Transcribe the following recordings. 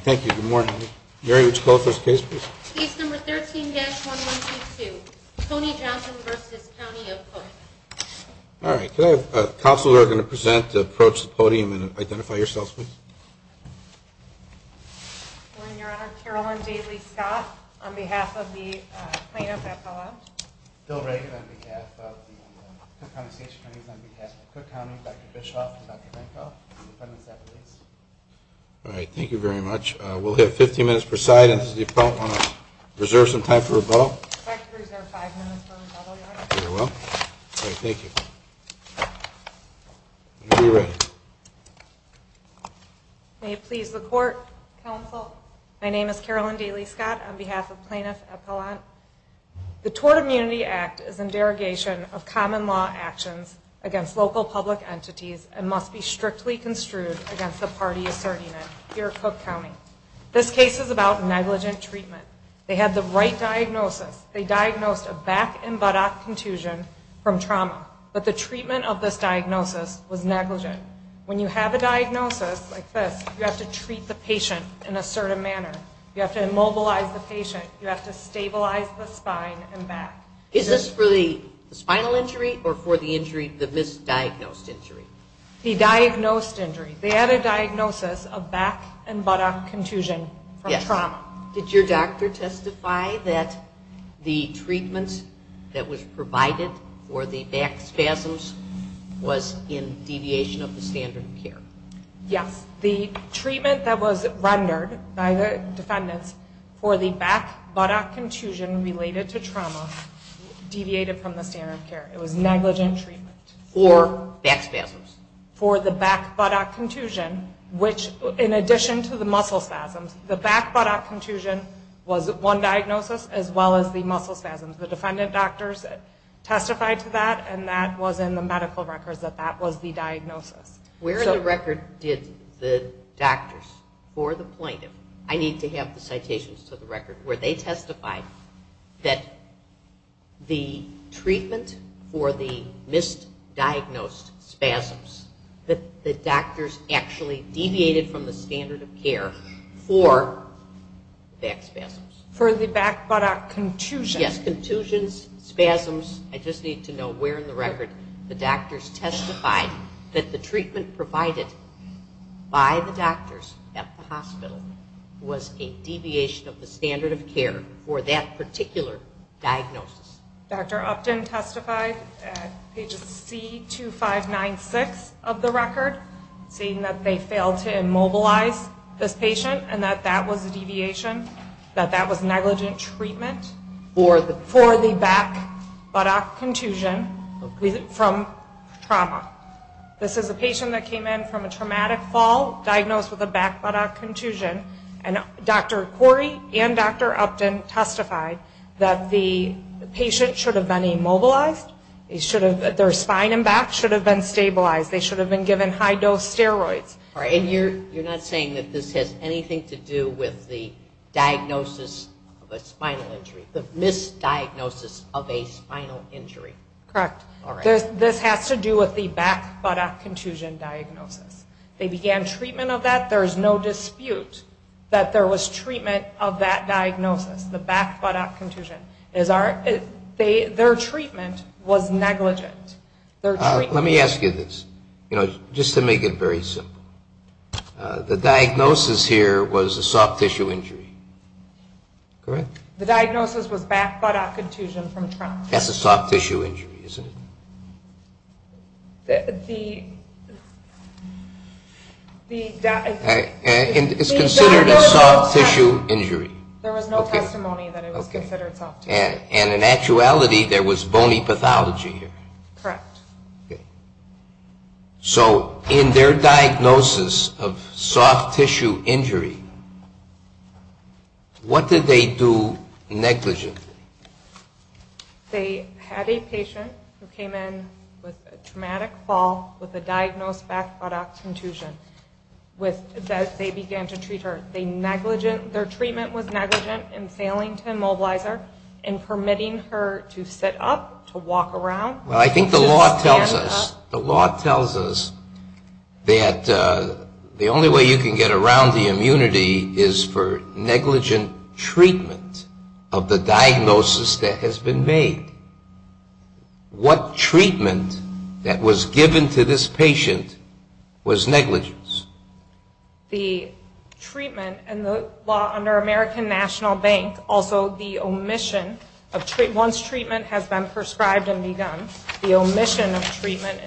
Thank you. Good morning. Mary, would you call the first case, please? Case number 13-1122, Tony Johnson v. County of Cook. All right. Could I have counsel who are going to present to approach the podium and identify yourselves, please? Good morning, Your Honor. Carolyn Daly-Scott on behalf of the plaintiff epilogue. Bill Reagan on behalf of the Cook County station attorneys, on behalf of Cook County, Dr. Bishof and Dr. Benko, and the defendants at the lease. All right. Thank you very much. We'll have 15 minutes per side, and this is the appellant. I want to reserve some time for rebuttal. If I could reserve five minutes for rebuttal, Your Honor. Very well. All right. Thank you. When you're ready. May it please the court, counsel. My name is Carolyn Daly-Scott on behalf of plaintiff appellant. The Tort Immunity Act is in derogation of common law actions against local public entities and must be strictly construed against the party asserting it here at Cook County. This case is about negligent treatment. They had the right diagnosis. They diagnosed a back and buttock contusion from trauma, but the treatment of this diagnosis was negligent. When you have a diagnosis like this, you have to treat the patient in a certain manner. You have to immobilize the patient. You have to stabilize the spine and back. Is this for the spinal injury or for the injury, the misdiagnosed injury? The diagnosed injury. They had a diagnosis of back and buttock contusion from trauma. Did your doctor testify that the treatment that was provided for the back spasms was in deviation of the standard of care? Yes. The treatment that was rendered by the defendants for the back buttock contusion related to trauma deviated from the standard of care. It was negligent treatment. For back spasms? For the back buttock contusion, which in addition to the muscle spasms, the back buttock contusion was one diagnosis as well as the muscle spasms. The defendant doctors testified to that and that was in the medical records that that was the diagnosis. Where in the record did the doctors or the plaintiff, I need to have the citations to the record, where they testified that the treatment for the misdiagnosed spasms, that the doctors actually deviated from the standard of care for back spasms? For the back buttock contusion. Yes, contusions, spasms. I just need to know where in the record the doctors testified that the treatment provided by the doctors at the hospital was a deviation of the standard of care for that particular diagnosis. Dr. Upton testified at pages C2596 of the record saying that they failed to immobilize this patient and that that was a deviation, that that was negligent treatment for the back buttock contusion from trauma. This is a patient that came in from a traumatic fall diagnosed with a back buttock contusion and Dr. Corey and Dr. Upton testified that the patient should have been immobilized, their spine and back should have been stabilized, they should have been given high dose steroids. All right, and you're not saying that this has anything to do with the diagnosis of a spinal injury, the misdiagnosis of a spinal injury? Correct. All right. This has to do with the back buttock contusion diagnosis. They began treatment of that. There is no dispute that there was treatment of that diagnosis, the back buttock contusion. Their treatment was negligent. Let me ask you this, you know, just to make it very simple. The diagnosis here was a soft tissue injury, correct? The diagnosis was back buttock contusion from trauma. That's a soft tissue injury, isn't it? It's considered a soft tissue injury. There was no testimony that it was considered soft tissue. And in actuality, there was bony pathology here. Correct. So in their diagnosis of soft tissue injury, what did they do negligently? They had a patient who came in with a traumatic fall with a diagnosed back buttock contusion. They began to treat her. Their treatment was negligent in failing to immobilize her and permitting her to sit up, to walk around. Well, I think the law tells us that the only way you can get around the immunity is for negligent treatment of the diagnosis that has been made. What treatment that was given to this patient was negligence? The treatment in the law under American National Bank, also the omission of treatment. Once treatment has been prescribed and begun, the omission of treatment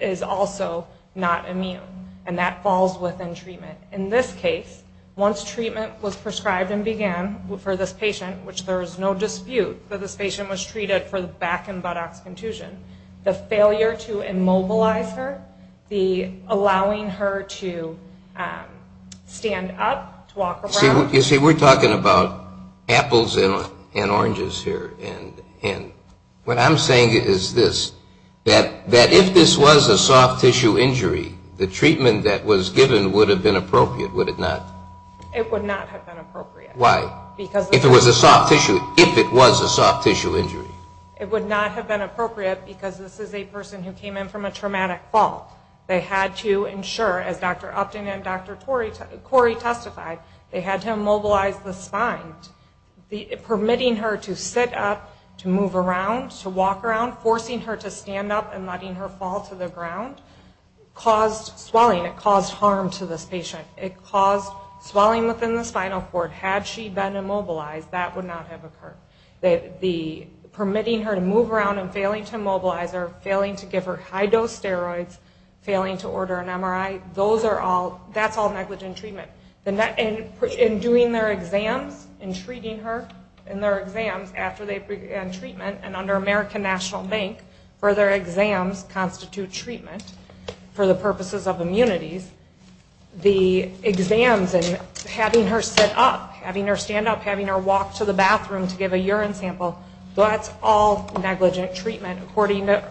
is also not immune. And that falls within treatment. In this case, once treatment was prescribed and began for this patient, which there is no dispute that this patient was treated for the back and buttocks contusion, the failure to immobilize her, the allowing her to stand up, to walk around. You see, we're talking about apples and oranges here. And what I'm saying is this, that if this was a soft tissue injury, the treatment that was given would have been appropriate, would it not? It would not have been appropriate. Why? If it was a soft tissue injury. It would not have been appropriate because this is a person who came in from a traumatic fall. They had to ensure, as Dr. Upton and Dr. Corey testified, they had to immobilize the spine. Permitting her to sit up, to move around, to walk around, forcing her to stand up and letting her fall to the ground caused swelling. It caused harm to this patient. It caused swelling within the spinal cord. Had she been immobilized, that would not have occurred. Permitting her to move around and failing to immobilize her, failing to give her high-dose steroids, failing to order an MRI, that's all negligent treatment. In doing their exams, in treating her in their exams after they began treatment, and under American National Bank, further exams constitute treatment for the purposes of immunities. The exams and having her sit up, having her stand up, having her walk to the bathroom to give a urine sample, that's all negligent treatment. According to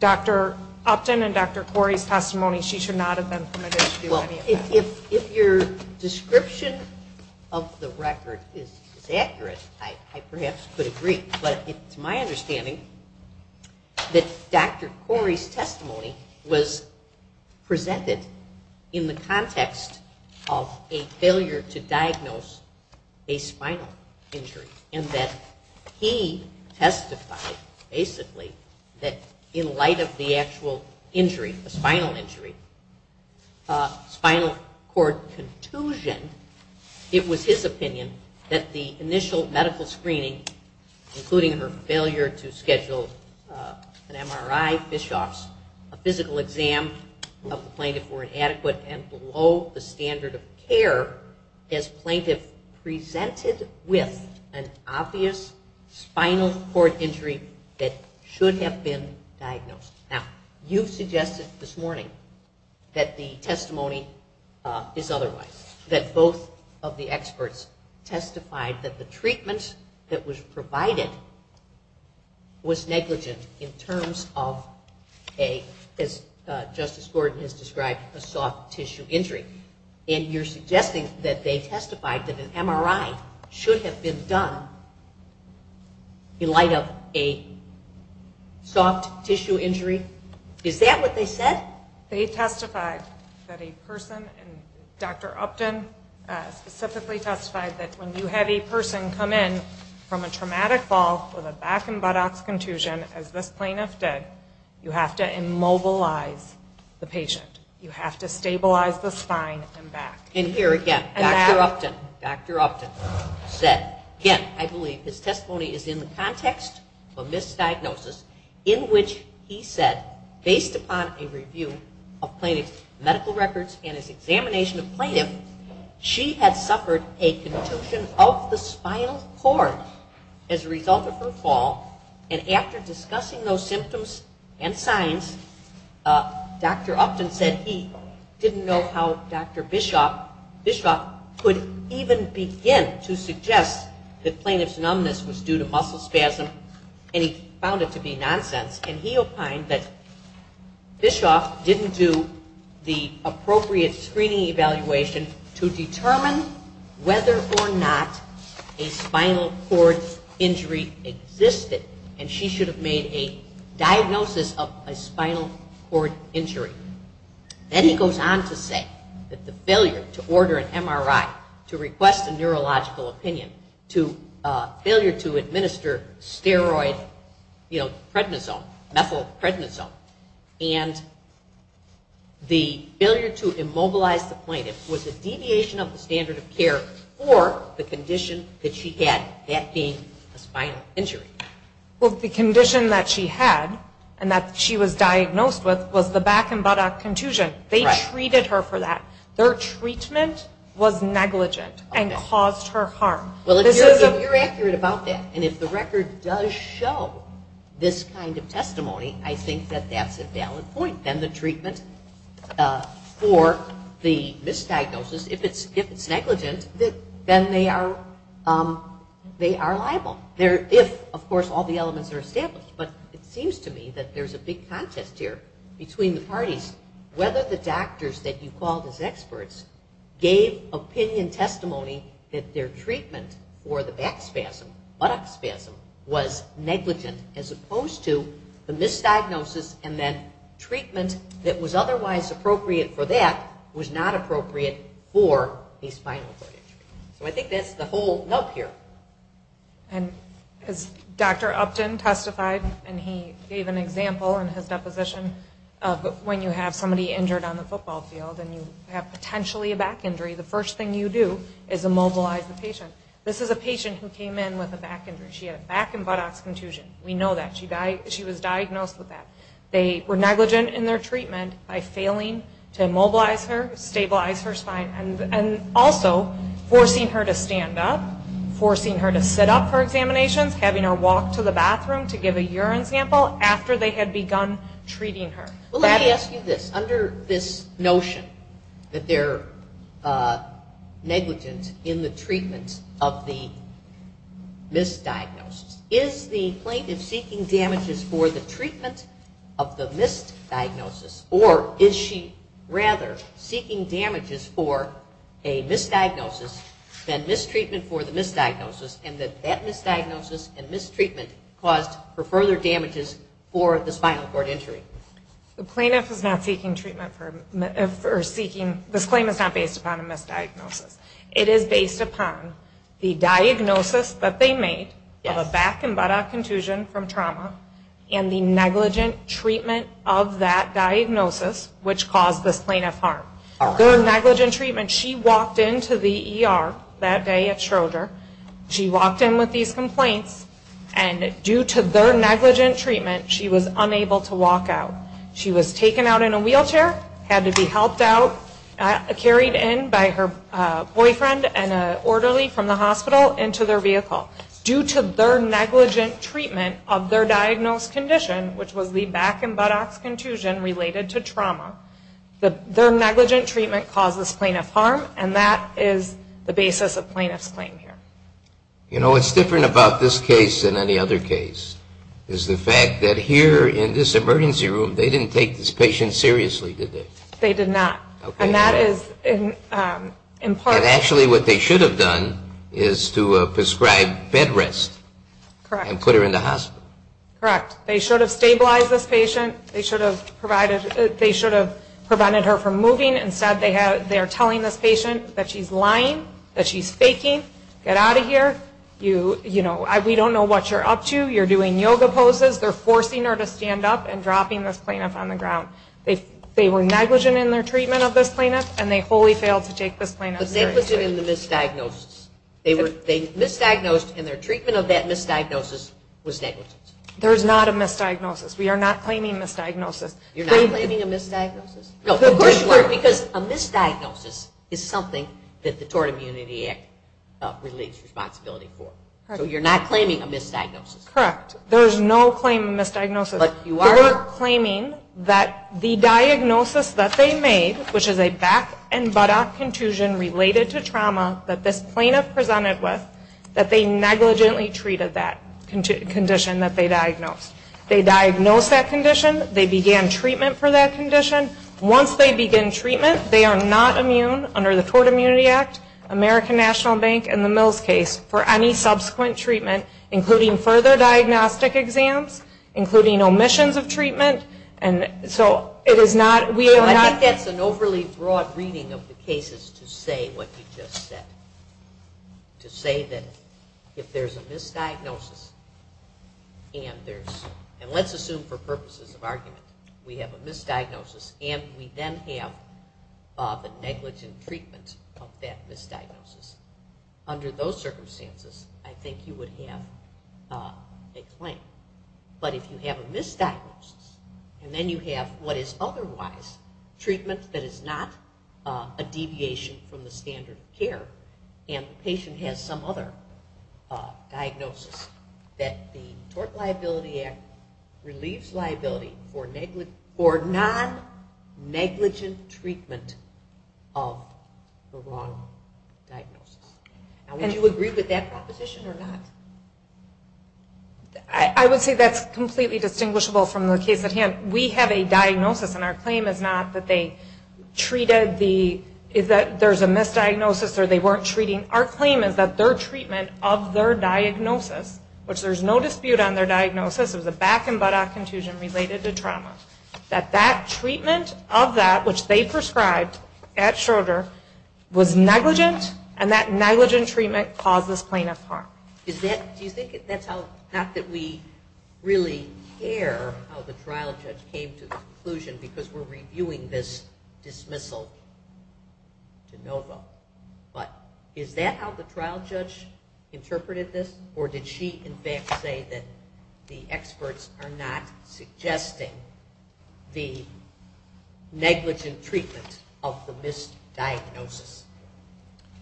Dr. Upton and Dr. Corey's testimony, she should not have been permitted to do any of that. If your description of the record is accurate, I perhaps could agree. But it's my understanding that Dr. Corey's testimony was presented in the context of a failure to diagnose a spinal injury and that he testified, basically, that in light of the actual injury, the spinal injury, spinal cord contusion, it was his opinion that the initial medical screening, including her failure to schedule an MRI, fish-offs, a physical exam of the plaintiff were inadequate and below the standard of care as plaintiff presented with an obvious spinal cord injury that should have been diagnosed. Now, you've suggested this morning that the testimony is otherwise, that both of the experts testified that the treatment that was provided was negligent in terms of a, as Justice Gordon has described, a soft tissue injury. And you're suggesting that they testified that an MRI should have been done in light of a soft tissue injury? Is that what they said? They testified that a person, Dr. Upton specifically testified that when you have a person come in from a traumatic fall with a back and buttocks contusion, as this plaintiff did, you have to immobilize the patient. You have to stabilize the spine and back. And here again, Dr. Upton said, again, I believe his testimony is in the context of a misdiagnosis, in which he said, based upon a review of plaintiff's medical records and his examination of plaintiff, she had suffered a contusion of the spinal cord as a result of her fall, and after discussing those symptoms and signs, Dr. Upton said he didn't know how Dr. Bischoff could even begin to suggest that plaintiff's numbness was due to muscle spasm, and he found it to be nonsense, and he opined that Bischoff didn't do the appropriate screening evaluation to determine whether or not a spinal cord injury existed, and she should have made a diagnosis of a spinal cord injury. Then he goes on to say that the failure to order an MRI, to request a neurological opinion, to failure to administer steroid, you know, prednisone, methyl prednisone, and the failure to immobilize the plaintiff was a deviation of the standard of care for the condition that she had, that being a spinal injury. Well, the condition that she had and that she was diagnosed with was the back and buttock contusion. They treated her for that. Their treatment was negligent and caused her harm. Well, if you're accurate about that, and if the record does show this kind of testimony, I think that that's a valid point. Then the treatment for the misdiagnosis, if it's negligent, then they are liable, if, of course, all the elements are established. But it seems to me that there's a big contest here between the parties, whether the doctors that you called as experts gave opinion testimony that their treatment for the back spasm, buttock spasm, was negligent as opposed to the misdiagnosis and then treatment that was otherwise appropriate for that was not appropriate for a spinal cord injury. So I think that's the whole nub here. As Dr. Upton testified, and he gave an example in his deposition, when you have somebody injured on the football field and you have potentially a back injury, the first thing you do is immobilize the patient. This is a patient who came in with a back injury. She had a back and buttock contusion. We know that. She was diagnosed with that. They were negligent in their treatment by failing to immobilize her, stabilize her spine, and also forcing her to stand up, forcing her to sit up for examinations, having her walk to the bathroom to give a urine sample after they had begun treating her. Let me ask you this. Under this notion that they're negligent in the treatment of the misdiagnosis, is the plaintiff seeking damages for the treatment of the misdiagnosis, or is she rather seeking damages for a misdiagnosis than mistreatment for the misdiagnosis, and that that misdiagnosis and mistreatment caused her further damages for the spinal cord injury? The plaintiff is not seeking treatment for a misdiagnosis. It is based upon the diagnosis that they made of a back and buttock contusion from trauma and the negligent treatment of that diagnosis, which caused this plaintiff harm. Their negligent treatment, she walked into the ER that day at Schroeder. She walked in with these complaints, and due to their negligent treatment, she was unable to walk out. She was taken out in a wheelchair, had to be helped out, carried in by her boyfriend and an orderly from the hospital into their vehicle. Due to their negligent treatment of their diagnosed condition, which was the back and buttocks contusion related to trauma, their negligent treatment caused this plaintiff harm, and that is the basis of plaintiff's claim here. You know, what's different about this case than any other case is the fact that here in this emergency room, they didn't take this patient seriously, did they? They did not, and that is in part. But actually what they should have done is to prescribe bed rest and put her in the hospital. Correct. They should have stabilized this patient. They should have prevented her from moving. Instead, they're telling this patient that she's lying, that she's faking, get out of here. You know, we don't know what you're up to. You're doing yoga poses. They're forcing her to stand up and dropping this plaintiff on the ground. They were negligent in their treatment of this plaintiff, and they wholly failed to take this plaintiff seriously. They were negligent in the misdiagnosis. They misdiagnosed, and their treatment of that misdiagnosis was negligent. There is not a misdiagnosis. We are not claiming misdiagnosis. You're not claiming a misdiagnosis? No, because a misdiagnosis is something that the Tort Immunity Act relates responsibility for. So you're not claiming a misdiagnosis? Correct. There is no claim of misdiagnosis. They were claiming that the diagnosis that they made, which is a back and buttock contusion related to trauma that this plaintiff presented with, that they negligently treated that condition that they diagnosed. They diagnosed that condition. They began treatment for that condition. Once they begin treatment, they are not immune, under the Tort Immunity Act, American National Bank, and the Mills case, for any subsequent treatment, including further diagnostic exams, including omissions of treatment. So it is not, we are not. I think that's an overly broad reading of the cases to say what you just said. To say that if there's a misdiagnosis, and let's assume for purposes of argument, we have a misdiagnosis, and we then have the negligent treatment of that misdiagnosis. Under those circumstances, I think you would have a claim. But if you have a misdiagnosis, and then you have what is otherwise treatment that is not a deviation from the standard of care, and the patient has some other diagnosis, that the Tort Liability Act relieves liability for non-negligent treatment of the wrong diagnosis. Would you agree with that proposition or not? I would say that's completely distinguishable from the case at hand. We have a diagnosis, and our claim is not that they treated the, that there's a misdiagnosis or they weren't treating. Our claim is that their treatment of their diagnosis, which there's no dispute on their diagnosis, it was a back and buttock contusion related to trauma. That that treatment of that, which they prescribed at Schroeder, was negligent, and that negligent treatment caused this plaintiff harm. Do you think that's how, not that we really care how the trial judge came to the conclusion, because we're reviewing this dismissal de novo. But is that how the trial judge interpreted this, or did she in fact say that the experts are not suggesting the negligent treatment of the misdiagnosis?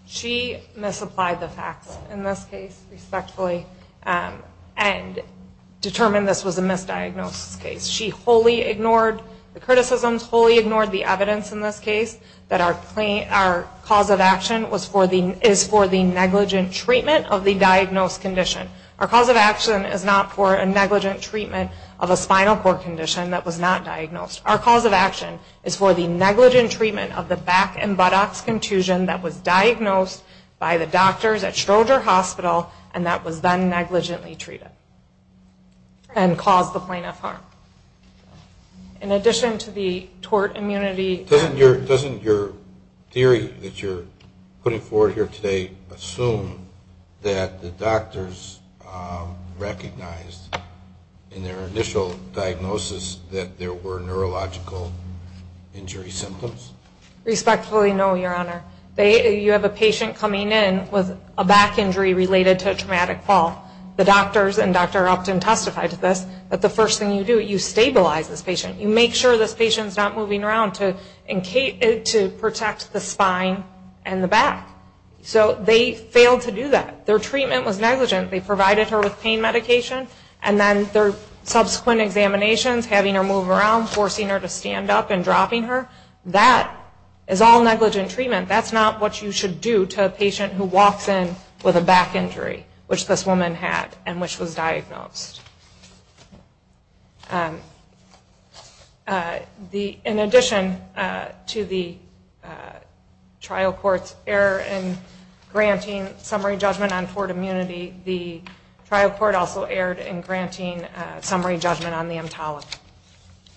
She misapplied the facts in this case, respectfully, and determined this was a misdiagnosis case. She wholly ignored the criticisms, wholly ignored the evidence in this case, that our cause of action is for the negligent treatment of the diagnosed condition. Our cause of action is not for a negligent treatment of a spinal cord condition that was not diagnosed. Our cause of action is for the negligent treatment of the back and buttocks contusion that was diagnosed by the doctors at Schroeder Hospital, and that was then negligently treated, and caused the plaintiff harm. In addition to the tort immunity... Doesn't your theory that you're putting forward here today assume that the doctors recognized in their initial diagnosis that there were neurological injury symptoms? Respectfully, no, Your Honor. You have a patient coming in with a back injury related to a traumatic fall. The doctors, and Dr. Upton testified to this, that the first thing you do, you stabilize this patient. You make sure this patient's not moving around to protect the spine and the back. So they failed to do that. Their treatment was negligent. They provided her with pain medication, and then their subsequent examinations, having her move around, forcing her to stand up and dropping her, that is all negligent treatment. That's not what you should do to a patient who walks in with a back injury, which this woman had and which was diagnosed. In addition to the trial court's error in granting summary judgment on tort immunity, the trial court also erred in granting summary judgment on the EMTALA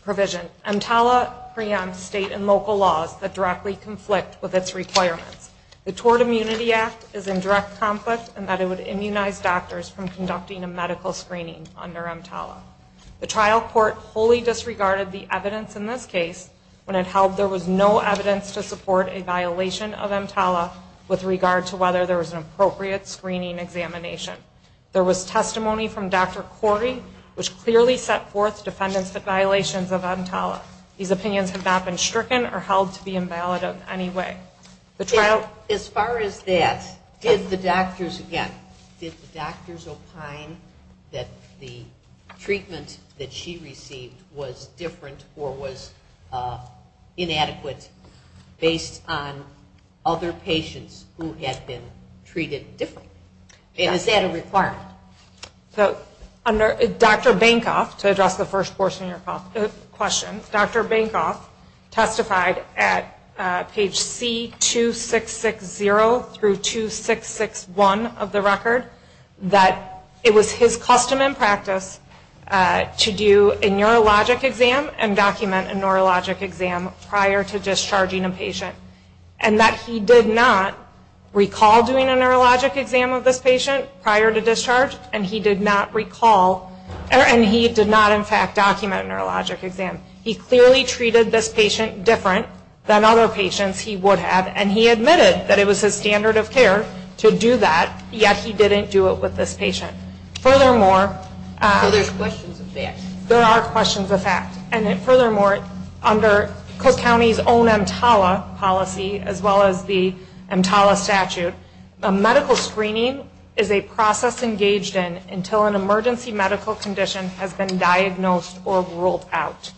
provision. EMTALA preempts state and local laws that directly conflict with its requirements. The Tort Immunity Act is in direct conflict in that it would immunize doctors from conducting a medical screening under EMTALA. The trial court wholly disregarded the evidence in this case when it held there was no evidence to support a violation of EMTALA with regard to whether there was an appropriate screening examination. There was testimony from Dr. Corey which clearly set forth defendant's violations of EMTALA. These opinions have not been stricken or held to be invalid in any way. As far as that, did the doctors, again, did the doctors opine that the treatment that she received was different or was inadequate based on other patients who had been treated differently? And is that a requirement? Dr. Bancroft, to address the first portion of your question, Dr. Bancroft testified at page C2660 through 2661 of the record that it was his custom and practice to do a neurologic exam and document a neurologic exam prior to discharging a patient and that he did not recall doing a neurologic exam of this patient prior to discharge and he did not recall, and he did not in fact document a neurologic exam. He clearly treated this patient different than other patients he would have and he admitted that it was his standard of care to do that, yet he didn't do it with this patient. Furthermore, there are questions of fact. And furthermore, under Coast County's own EMTALA policy as well as the EMTALA statute, a medical screening is a process engaged in until an emergency medical condition has been diagnosed or ruled out.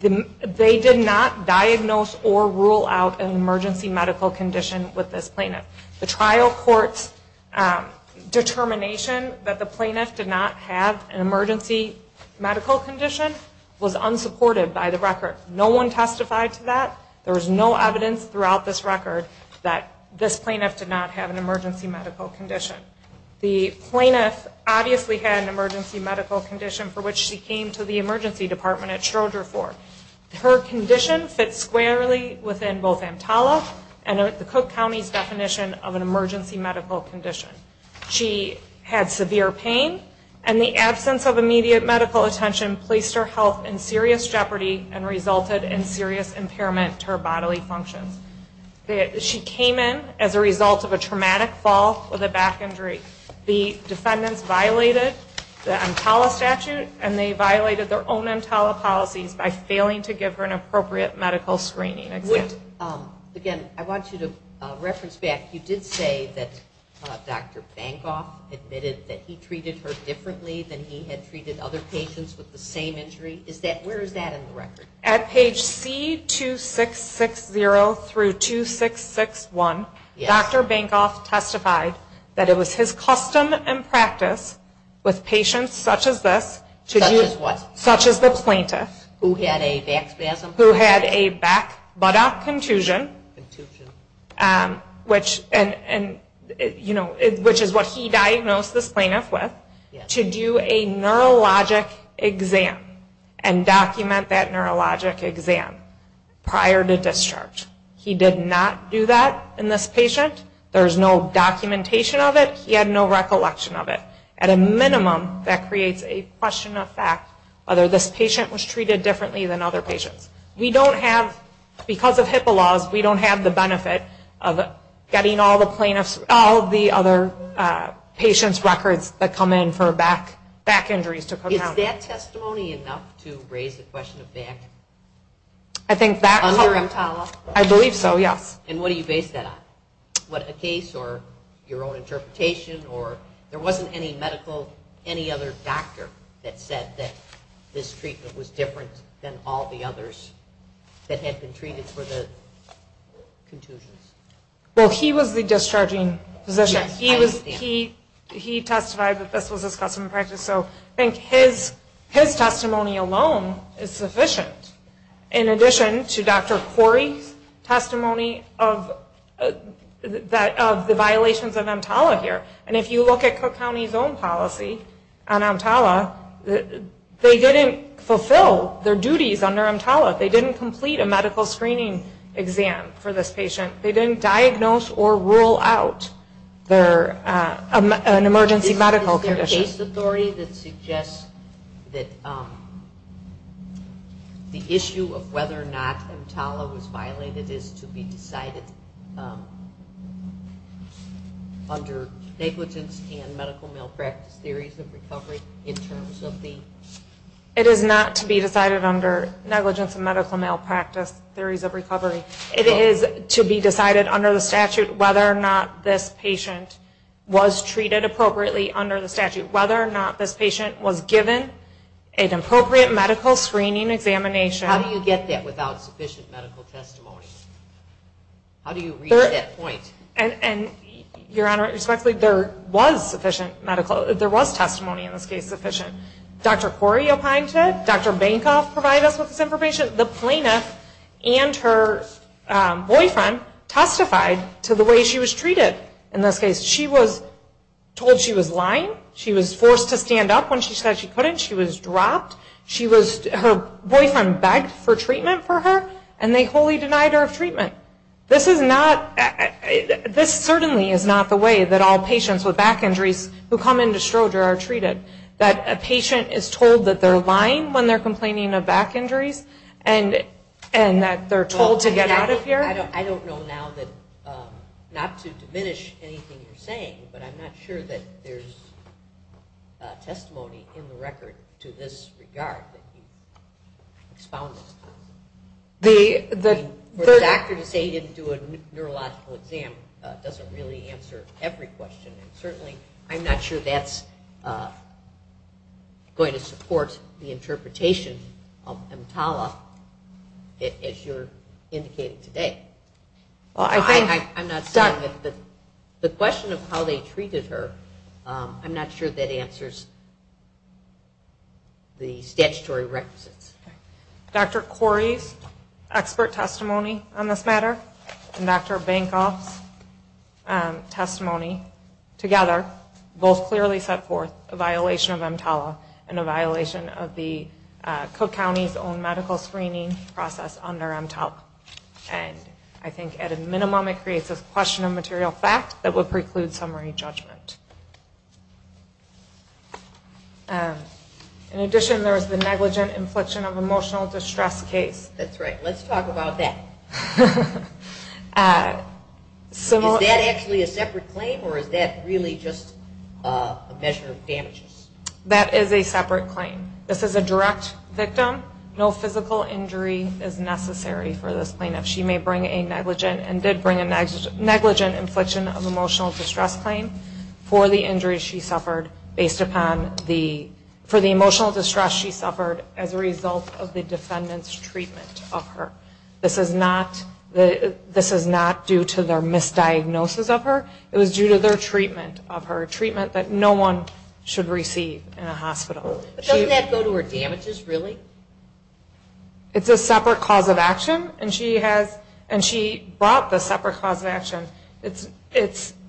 They did not diagnose or rule out an emergency medical condition with this plaintiff. The trial court's determination that the plaintiff did not have an emergency medical condition was unsupported by the record. No one testified to that. There was no evidence throughout this record that this plaintiff did not have an emergency medical condition. The plaintiff obviously had an emergency medical condition for which she came to the emergency department at Stroger for. Her condition fits squarely within both EMTALA and the Cook County's definition of an emergency medical condition. She had severe pain and the absence of immediate medical attention placed her health in serious jeopardy and resulted in serious impairment to her bodily functions. She came in as a result of a traumatic fall with a back injury. The defendants violated the EMTALA statute and they violated their own EMTALA policies by failing to give her an appropriate medical screening. Again, I want you to reference back. You did say that Dr. Bankoff admitted that he treated her differently than he had treated other patients with the same injury. Where is that in the record? At page C2660-2661, Dr. Bankoff testified that it was his custom and practice with patients such as this, such as the plaintiff, who had a back buttock contusion, which is what he diagnosed this plaintiff with, to do a neurologic exam and document that neurologic exam prior to discharge. He did not do that in this patient. There is no documentation of it. He had no recollection of it. At a minimum, that creates a question of fact whether this patient was treated differently than other patients. We don't have, because of HIPAA laws, we don't have the benefit of getting all the plaintiffs, all the other patients' records that come in for back injuries to come down. Is that testimony enough to raise the question of back? I think that... Under EMTALA? I believe so, yes. And what do you base that on? What a case or your own interpretation, or there wasn't any medical, any other doctor that said that this treatment was different than all the others that had been treated for the contusions? Well, he was the discharging physician. Yes, I understand. He testified that this was his custom and practice, so I think his testimony alone is sufficient. In addition to Dr. Corey's testimony of the violations of EMTALA here, and if you look at Cook County's own policy on EMTALA, they didn't fulfill their duties under EMTALA. They didn't complete a medical screening exam for this patient. They didn't diagnose or rule out an emergency medical condition. Is there a case authority that suggests that the issue of whether or not EMTALA was violated is to be decided under negligence and medical malpractice theories of recovery in terms of the... It is not to be decided under negligence and medical malpractice theories of recovery. It is to be decided under the statute whether or not this patient was treated appropriately under the statute, whether or not this patient was given an appropriate medical screening examination. How do you get that without sufficient medical testimony? How do you reach that point? Your Honor, respectfully, there was testimony in this case sufficient. Dr. Corey opined to it. Dr. Bancroft provided us with this information. The plaintiff and her boyfriend testified to the way she was treated in this case. She was told she was lying. She was forced to stand up when she said she couldn't. She was dropped. Her boyfriend begged for treatment for her, and they wholly denied her treatment. This certainly is not the way that all patients with back injuries who come into Stroger are treated, that a patient is told that they're lying when they're complaining of back injuries and that they're told to get out of here. I don't know now not to diminish anything you're saying, but I'm not sure that there's testimony in the record to this regard. For the doctor to say he didn't do a neurological exam doesn't really answer every question, and certainly I'm not sure that's going to support the interpretation of EMTALA, as you're indicating today. I'm not saying that the question of how they treated her, I'm not sure that answers the statutory requisites. Dr. Corey's expert testimony on this matter and Dr. Bankoff's testimony together both clearly set forth a violation of EMTALA and a violation of the Cook County's own medical screening process under EMTALA, and I think at a minimum it creates a question of material fact that would preclude summary judgment. In addition, there is the negligent infliction of emotional distress case. That's right. Let's talk about that. Is that actually a separate claim or is that really just a measure of damages? That is a separate claim. This is a direct victim. No physical injury is necessary for this plaintiff. She may bring a negligent and did bring a negligent infliction of emotional distress claim. For the injuries she suffered based upon the emotional distress she suffered as a result of the defendant's treatment of her. This is not due to their misdiagnosis of her. It was due to their treatment of her, treatment that no one should receive in a hospital. Doesn't that go to her damages, really? It's a separate cause of action, and she brought the separate cause of action. It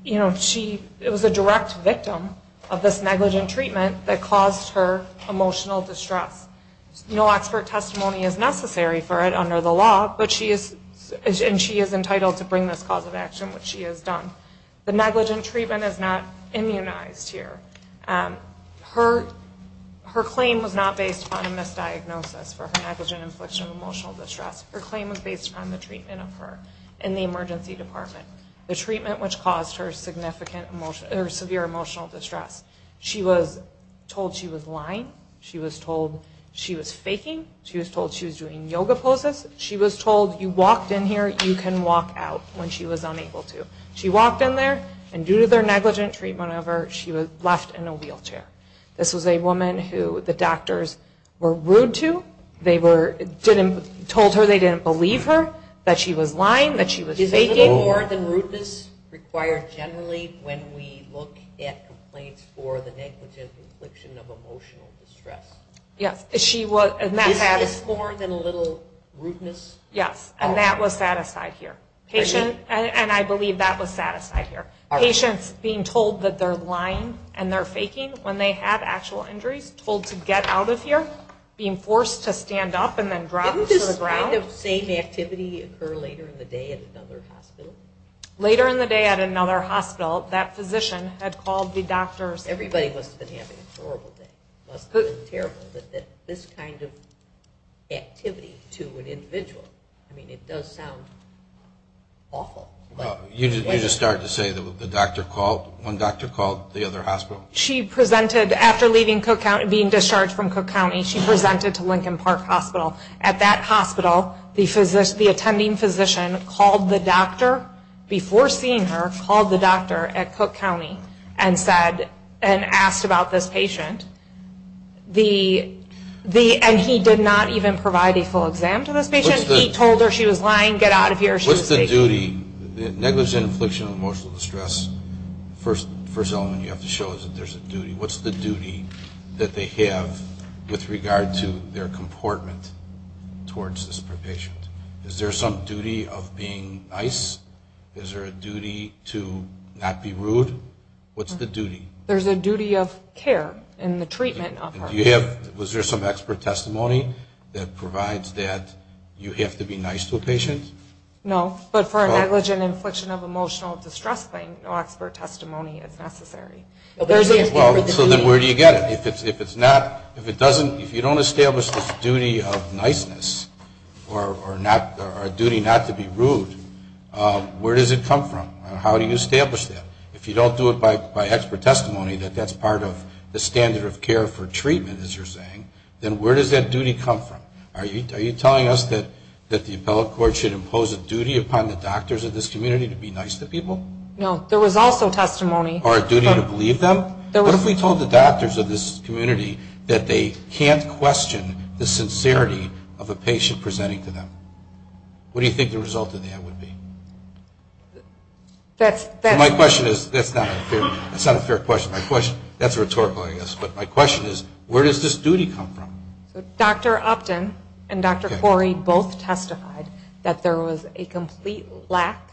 was a direct victim of this negligent treatment that caused her emotional distress. No expert testimony is necessary for it under the law, and she is entitled to bring this cause of action, which she has done. The negligent treatment is not immunized here. Her claim was not based upon a misdiagnosis for her negligent infliction of emotional distress. Her claim was based upon the treatment of her in the emergency department, the treatment which caused her severe emotional distress. She was told she was lying. She was told she was faking. She was told she was doing yoga poses. She was told you walked in here, you can walk out when she was unable to. She walked in there, and due to their negligent treatment of her, she was left in a wheelchair. This was a woman who the doctors were rude to. They told her they didn't believe her, that she was lying, that she was faking. Is this more than rudeness required generally when we look at complaints for the negligent infliction of emotional distress? Yes. Is this more than a little rudeness? Yes, and that was set aside here. And I believe that was set aside here. Patients being told that they're lying and they're faking when they have actual injuries, told to get out of here, being forced to stand up and then dropped to the ground. Didn't this kind of same activity occur later in the day at another hospital? Later in the day at another hospital, that physician had called the doctors. Everybody must have been having a horrible day. It must have been terrible that this kind of activity to an individual. I mean, it does sound awful. You just started to say the doctor called? One doctor called the other hospital? She presented after being discharged from Cook County, she presented to Lincoln Park Hospital. At that hospital, the attending physician called the doctor before seeing her, called the doctor at Cook County and asked about this patient. And he did not even provide a full exam to this patient. He told her she was lying, get out of here, she was faking. What's the duty, negligent infliction of emotional distress, the first element you have to show is that there's a duty. What's the duty that they have with regard to their comportment towards this patient? Is there some duty of being nice? Is there a duty to not be rude? What's the duty? There's a duty of care in the treatment of her. Was there some expert testimony that provides that you have to be nice to a patient? No, but for a negligent infliction of emotional distress thing, no expert testimony is necessary. So then where do you get it? If you don't establish this duty of niceness or a duty not to be rude, where does it come from? How do you establish that? If you don't do it by expert testimony that that's part of the standard of care for treatment, as you're saying, then where does that duty come from? Are you telling us that the appellate court should impose a duty upon the doctors of this community to be nice to people? No, there was also testimony. Or a duty to believe them? What if we told the doctors of this community that they can't question the sincerity of a patient presenting to them? What do you think the result of that would be? My question is, that's not a fair question. That's rhetorical, I guess. But my question is, where does this duty come from? Dr. Upton and Dr. Corey both testified that there was a complete lack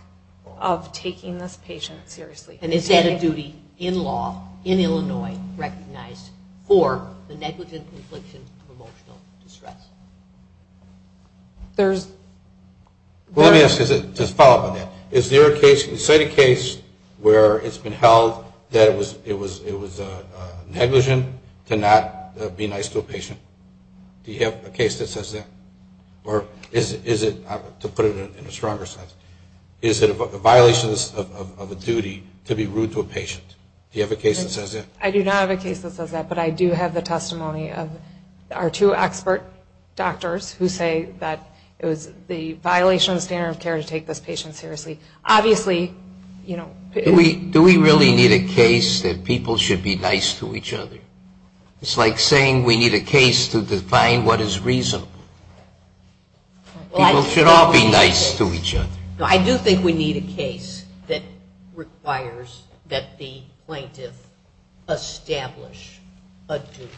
of taking this patient seriously. And it's at a duty, in law, in Illinois, recognized for the negligent infliction of emotional distress. Let me ask, just to follow up on that, is there a case where it's been held that it was negligent to not be nice to a patient? Do you have a case that says that? Or is it, to put it in a stronger sense, is it a violation of a duty to be rude to a patient? Do you have a case that says that? I do not have a case that says that, but I do have the testimony of our two expert doctors who say that it was a violation of the standard of care to take this patient seriously. Obviously, you know. Do we really need a case that people should be nice to each other? It's like saying we need a case to define what is reasonable. People should all be nice to each other. I do think we need a case that requires that the plaintiff establish a duty.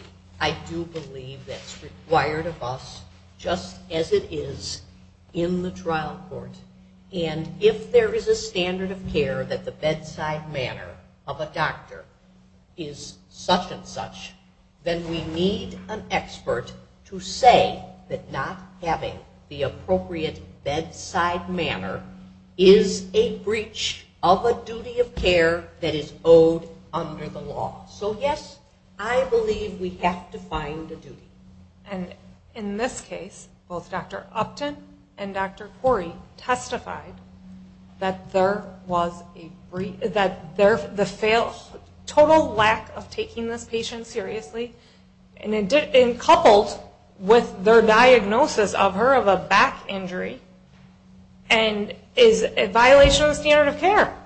I do believe that's required of us, just as it is in the trial court. And if there is a standard of care that the bedside manner of a doctor is such and such, then we need an expert to say that not having the appropriate bedside manner is a breach of a duty of care that is owed under the law. So yes, I believe we have to find a duty. And in this case, both Dr. Upton and Dr. Corey testified that the total lack of taking this patient seriously, coupled with their diagnosis of her of a back injury, is a violation of the standard of care.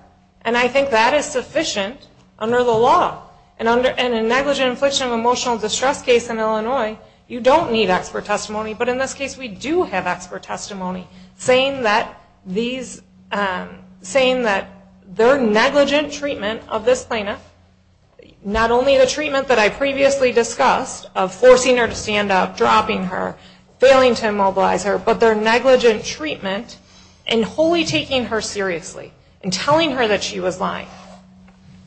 And I think that is sufficient under the law. And in a negligent infliction of emotional distress case in Illinois, you don't need expert testimony, but in this case we do have expert testimony saying that their negligent treatment of this plaintiff, not only the treatment that I previously discussed of forcing her to stand up, dropping her, failing to immobilize her, but their negligent treatment in wholly taking her seriously and telling her that she was lying.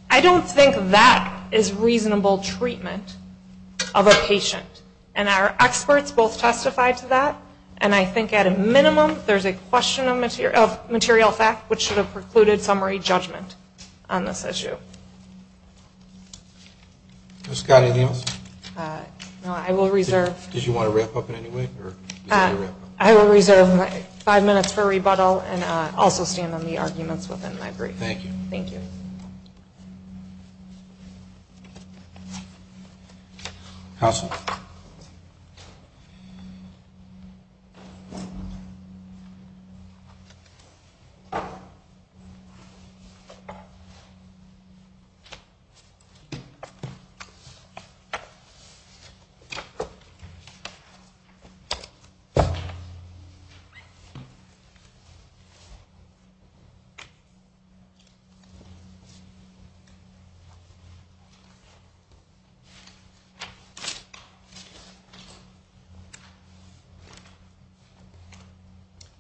I don't think that is reasonable treatment of a patient. And our experts both testified to that. And I think at a minimum there's a question of material fact which should have precluded summary judgment on this issue. Ms. Scott, anything else? No, I will reserve my five minutes for rebuttal and also stand on the arguments within my brief. Thank you. Thank you. Thank you.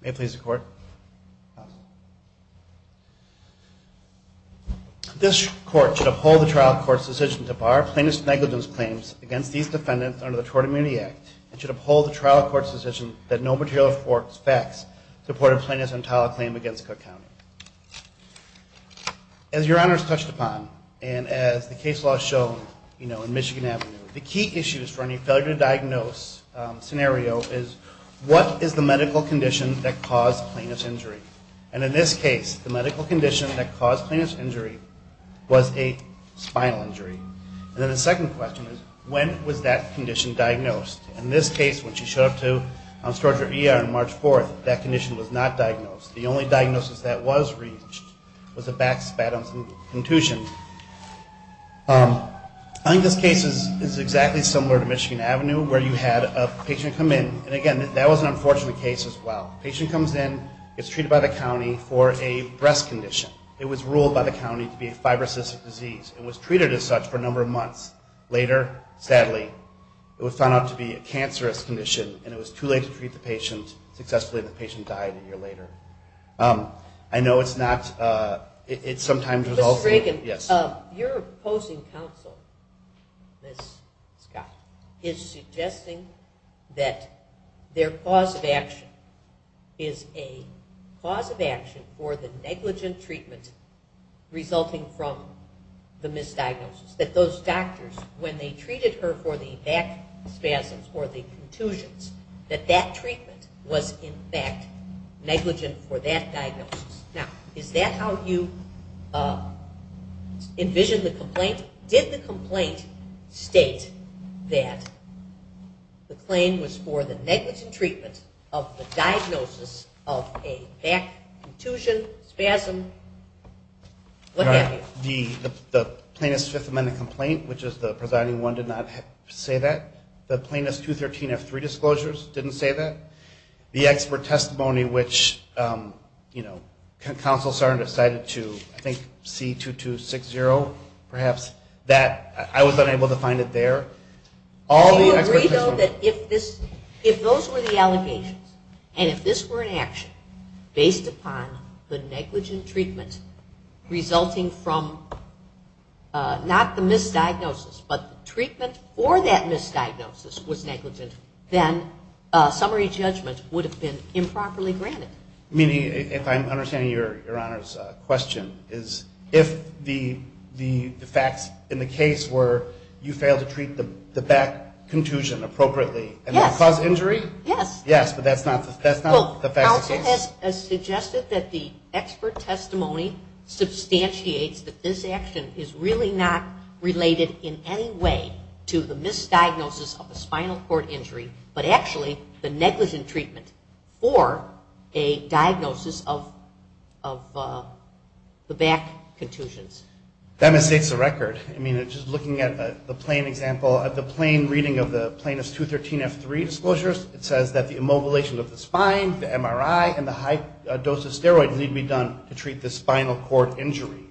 May it please the Court. This Court should uphold the trial court's decision to bar plaintiff's negligence claims against these defendants under the Tort Immunity Act and should uphold the trial court's decision that no material facts support a plaintiff's entitled claim against Cook County. As Your Honors touched upon and as the case law shown in Michigan Avenue, the key issues for any failure to diagnose scenario is what is the medical condition that caused plaintiff's injury? And in this case, the medical condition that caused plaintiff's injury was a spinal injury. And then the second question is when was that condition diagnosed? In this case, when she showed up to storage or ER on March 4th, that condition was not diagnosed. The only diagnosis that was reached was a back spasm and contusion. I think this case is exactly similar to Michigan Avenue where you had a patient come in. And again, that was an unfortunate case as well. A patient comes in, gets treated by the county for a breast condition. It was ruled by the county to be a fibrocystic disease. It was treated as such for a number of months. Later, sadly, it was found out to be a cancerous condition, and it was too late to treat the patient. Successfully, the patient died a year later. I know it's not – it sometimes results in – Mr. Dragan, your opposing counsel, Ms. Scott, is suggesting that their cause of action is a cause of action for the negligent treatment resulting from the misdiagnosis, that those doctors, when they treated her for the back spasms or the contusions, that that treatment was, in fact, negligent for that diagnosis. Now, is that how you envisioned the complaint? Did the complaint state that the claim was for the negligent treatment of the diagnosis of a back contusion, spasm, what have you? The plaintiff's Fifth Amendment complaint, which is the presiding one, did not say that. The plaintiff's 213F3 disclosures didn't say that. The expert testimony, which, you know, counsel Saron decided to, I think, C2260, perhaps, that I was unable to find it there. Do you agree, though, that if those were the allegations and if this were an action based upon the negligent treatment resulting from not the misdiagnosis but the treatment or that misdiagnosis was negligent, then summary judgment would have been improperly granted? Meaning, if I'm understanding Your Honor's question, is if the facts in the case were you failed to treat the back contusion appropriately and caused injury? Yes, but that's not the facts of the case. This has suggested that the expert testimony substantiates that this action is really not related in any way to the misdiagnosis of a spinal cord injury, but actually the negligent treatment or a diagnosis of the back contusions. That misstates the record. I mean, just looking at the plain example, the plain reading of the Plaintiff's 213F3 disclosures, it says that the immobilization of the spine, the MRI, and the high dose of steroids need to be done to treat the spinal cord injury.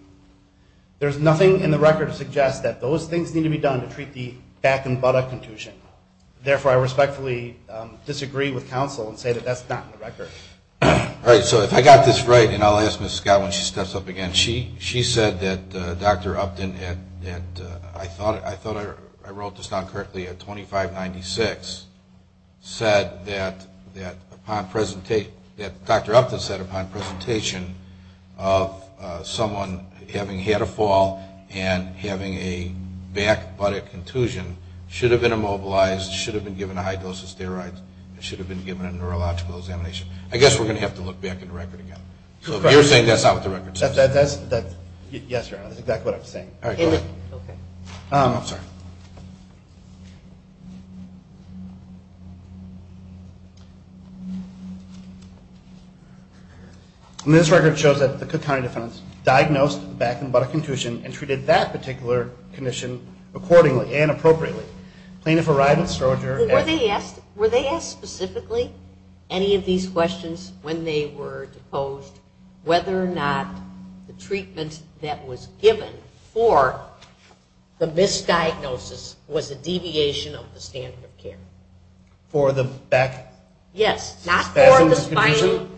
There's nothing in the record to suggest that those things need to be done to treat the back and buttock contusion. Therefore, I respectfully disagree with counsel and say that that's not in the record. All right, so if I got this right, and I'll ask Ms. Scott when she steps up again, she said that Dr. Upton had, I thought I wrote this down correctly, at 2596, said that Dr. Upton said, upon presentation of someone having had a fall and having a back buttock contusion, should have been immobilized, should have been given a high dose of steroids, and should have been given a neurological examination. I guess we're going to have to look back in the record again. So if you're saying that's not what the record says. Yes, Your Honor, that's exactly what I was saying. All right, go ahead. Okay. I'm sorry. This record shows that the Cook County defendants diagnosed the back and buttock contusion and treated that particular condition accordingly and appropriately. Plaintiff arrived with steroid injury. Were they asked specifically any of these questions when they were deposed whether or not the treatment that was given for the misdiagnosis was a deviation of the standard of care? For the back spasm? Yes. Not for the spinal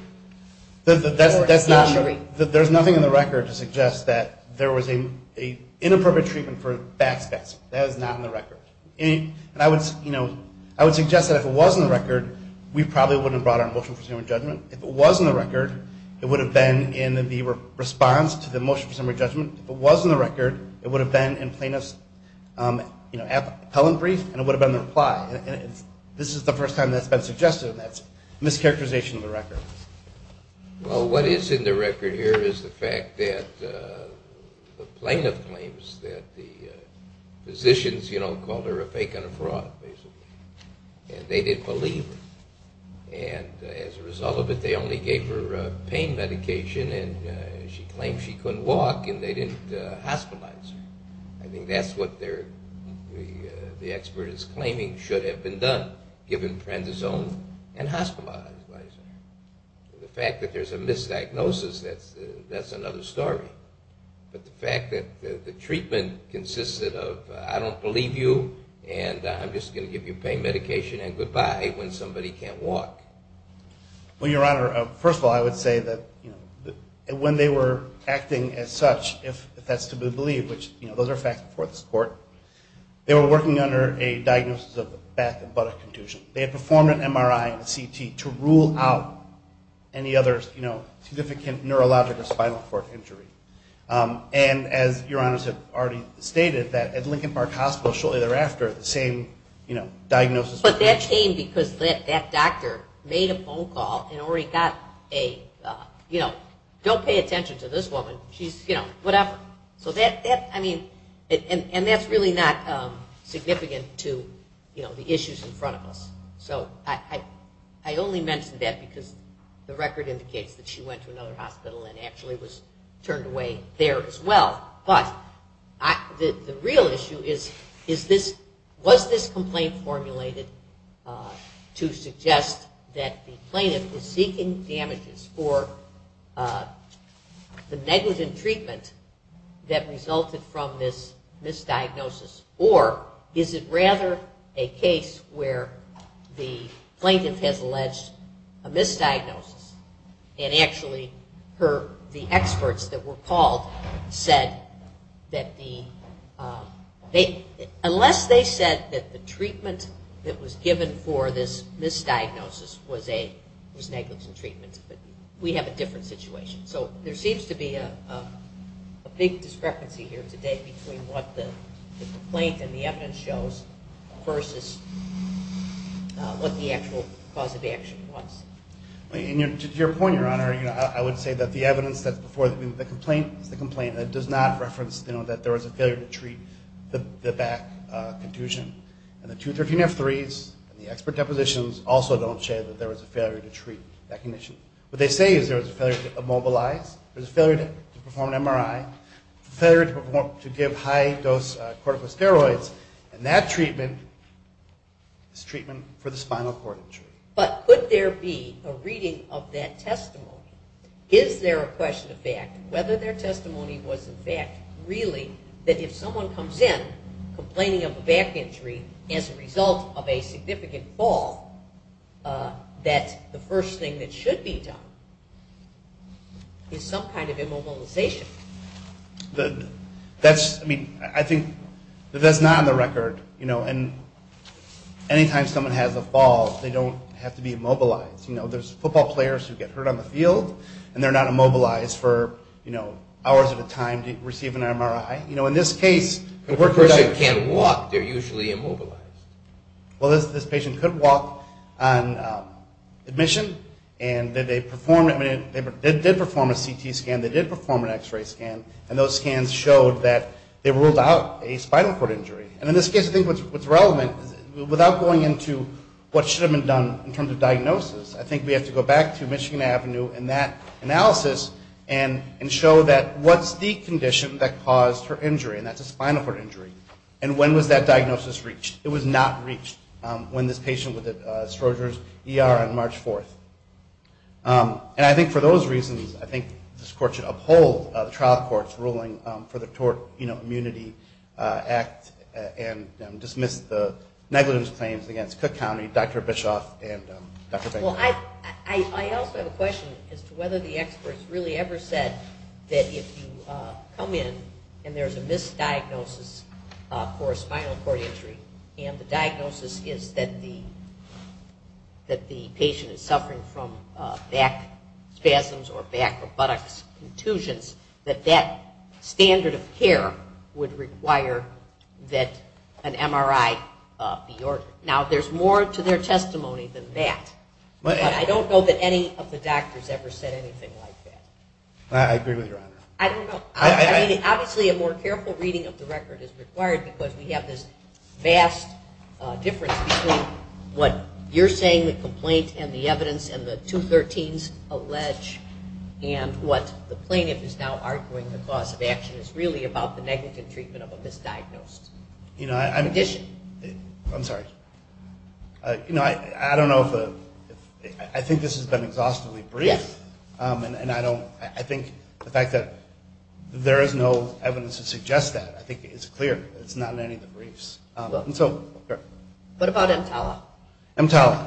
injury. There's nothing in the record to suggest that there was an inappropriate treatment for back spasm. That is not in the record. And I would suggest that if it was in the record, we probably wouldn't have brought our motion for summary judgment. If it was in the record, it would have been in the response to the motion for summary judgment. If it was in the record, it would have been in plaintiff's appellant brief and it would have been the reply. This is the first time that's been suggested and that's a mischaracterization of the record. Well, what is in the record here is the fact that the plaintiff claims that the physicians called her a fake and a fraud, basically, and they didn't believe her. And as a result of it, they only gave her pain medication and she claimed she couldn't walk and they didn't hospitalize her. I think that's what the expert is claiming should have been done, given prantosome and hospitalized. The fact that there's a misdiagnosis, that's another story. But the fact that the treatment consisted of I don't believe you and I'm just going to give you pain medication and goodbye when somebody can't walk. Well, Your Honor, first of all, I would say that when they were acting as such, if that's to be believed, which those are facts before this court, they were working under a diagnosis of back and buttock contusion. They had performed an MRI and a CT to rule out any other significant neurologic or spinal cord injury. And as Your Honors have already stated, at Lincoln Park Hospital shortly thereafter, the same diagnosis. But that came because that doctor made a phone call and already got a, you know, don't pay attention to this woman, she's, you know, whatever. So that, I mean, and that's really not significant to, you know, the issues in front of us. So I only mention that because the record indicates that she went to another hospital and actually was turned away there as well. But the real issue is, is this, was this complaint formulated to suggest that the plaintiff is seeking damages for the negligent treatment that resulted from this misdiagnosis? Or is it rather a case where the plaintiff has alleged a misdiagnosis and actually her, the experts that were called said that the, unless they said that the treatment that was given for this misdiagnosis was negligent treatment, but we have a different situation. So there seems to be a big discrepancy here today between what the complaint and the evidence shows versus what the actual cause of action was. And to your point, Your Honor, you know, I would say that the evidence that's before the complaint is the complaint that does not reference, you know, that there was a failure to treat the back contusion. And the 213F3s and the expert depositions also don't show that there was a failure to treat that condition. What they say is there was a failure to immobilize, there was a failure to perform an MRI, a failure to give high-dose corticosteroids, and that treatment is treatment for the spinal cord injury. But could there be a reading of that testimony? Is there a question of fact? Whether their testimony was a fact, really, that if someone comes in complaining of a back injury as a result of a significant fall, that the first thing that should be done is some kind of immobilization. That's, I mean, I think if that's not on the record, you know, and any time someone has a fall, they don't have to be immobilized. You know, there's football players who get hurt on the field, and they're not immobilized for, you know, hours at a time to receive an MRI. You know, in this case... If a person can't walk, they're usually immobilized. Well, this patient could walk on admission, and they did perform a CT scan, they did perform an X-ray scan, and those scans showed that they ruled out a spinal cord injury. And in this case, I think what's relevant, without going into what should have been done in terms of diagnosis, I think we have to go back to Michigan Avenue and that analysis and show that what's the condition that caused her injury, and that's a spinal cord injury, and when was that diagnosis reached? It was not reached when this patient was at Stroger's ER on March 4th. And I think for those reasons, I think this court should uphold the trial court's ruling for the Tort Immunity Act and dismiss the negligence claims against Cook County, Dr. Bischoff and Dr. Baker. Well, I also have a question as to whether the experts really ever said that if you come in and there's a misdiagnosis for a spinal cord injury, and the diagnosis is that the patient is suffering from back spasms or back or buttocks contusions, that that standard of care would require that an MRI be ordered. Now, there's more to their testimony than that, but I don't know that any of the doctors ever said anything like that. I agree with you, Your Honor. I don't know. I mean, obviously a more careful reading of the record is required because we have this vast difference between what you're saying, the complaint, and the evidence, and the 213s allege, and what the plaintiff is now arguing the cause of action is really about the negative treatment of a misdiagnosed condition. I'm sorry. You know, I don't know if the – I think this has been exhaustively brief. Yes. And I don't – I think the fact that there is no evidence to suggest that, I think, is clear. It's not in any of the briefs. What about EMTALA? EMTALA.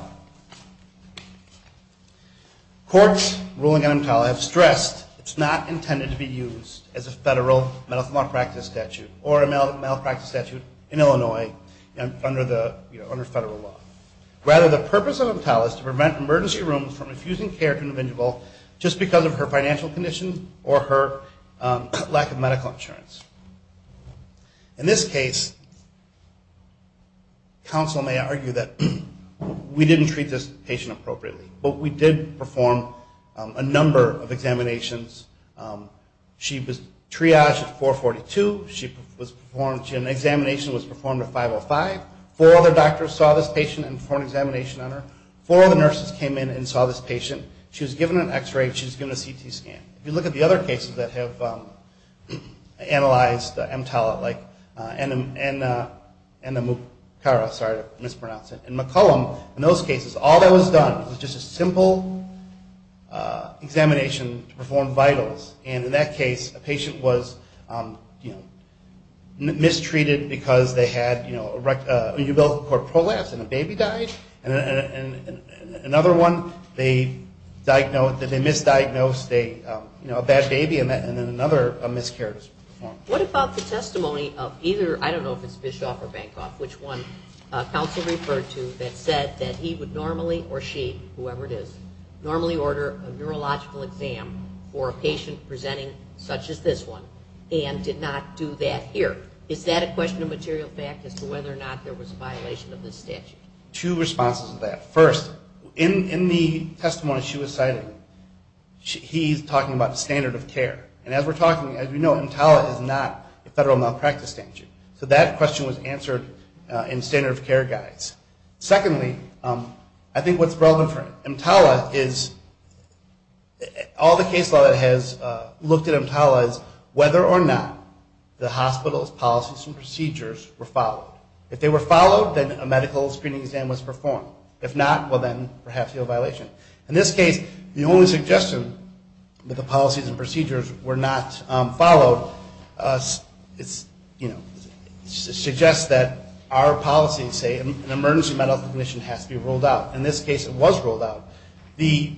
Courts ruling on EMTALA have stressed it's not intended to be used as a federal medical malpractice statute or a medical malpractice statute in Illinois under federal law. Rather, the purpose of EMTALA is to prevent emergency rooms from refusing care to an individual just because of her financial condition or her lack of medical insurance. In this case, counsel may argue that we didn't treat this patient appropriately, but we did perform a number of examinations. She was triaged at 442. She was performed – an examination was performed at 505. Four other doctors saw this patient and performed an examination on her. Four other nurses came in and saw this patient. She was given an X-ray. She was given a CT scan. If you look at the other cases that have analyzed EMTALA, like Enamucara, sorry to mispronounce it, and McCollum, in those cases, all that was done was just a simple examination to perform vitals. And in that case, a patient was mistreated because they had a ubiquitous cord prolapse and a baby died. Another one, they misdiagnosed a bad baby, and then another miscarriage was performed. What about the testimony of either – I don't know if it's Bischoff or Bankoff, which one counsel referred to that said that he would normally, or she, whoever it is, normally order a neurological exam for a patient presenting such as this one and did not do that here? Is that a question of material fact as to whether or not there was a violation of this statute? Two responses to that. First, in the testimony she was citing, he's talking about standard of care. And as we're talking, as we know, EMTALA is not a federal malpractice statute. So that question was answered in standard of care guides. Secondly, I think what's relevant for EMTALA is all the case law that has looked at EMTALA is whether or not the hospital's policies and procedures were followed. If they were followed, then a medical screening exam was performed. If not, well, then perhaps there was a violation. In this case, the only suggestion that the policies and procedures were not followed suggests that our policy, say an emergency medical condition has to be ruled out. In this case, it was ruled out. The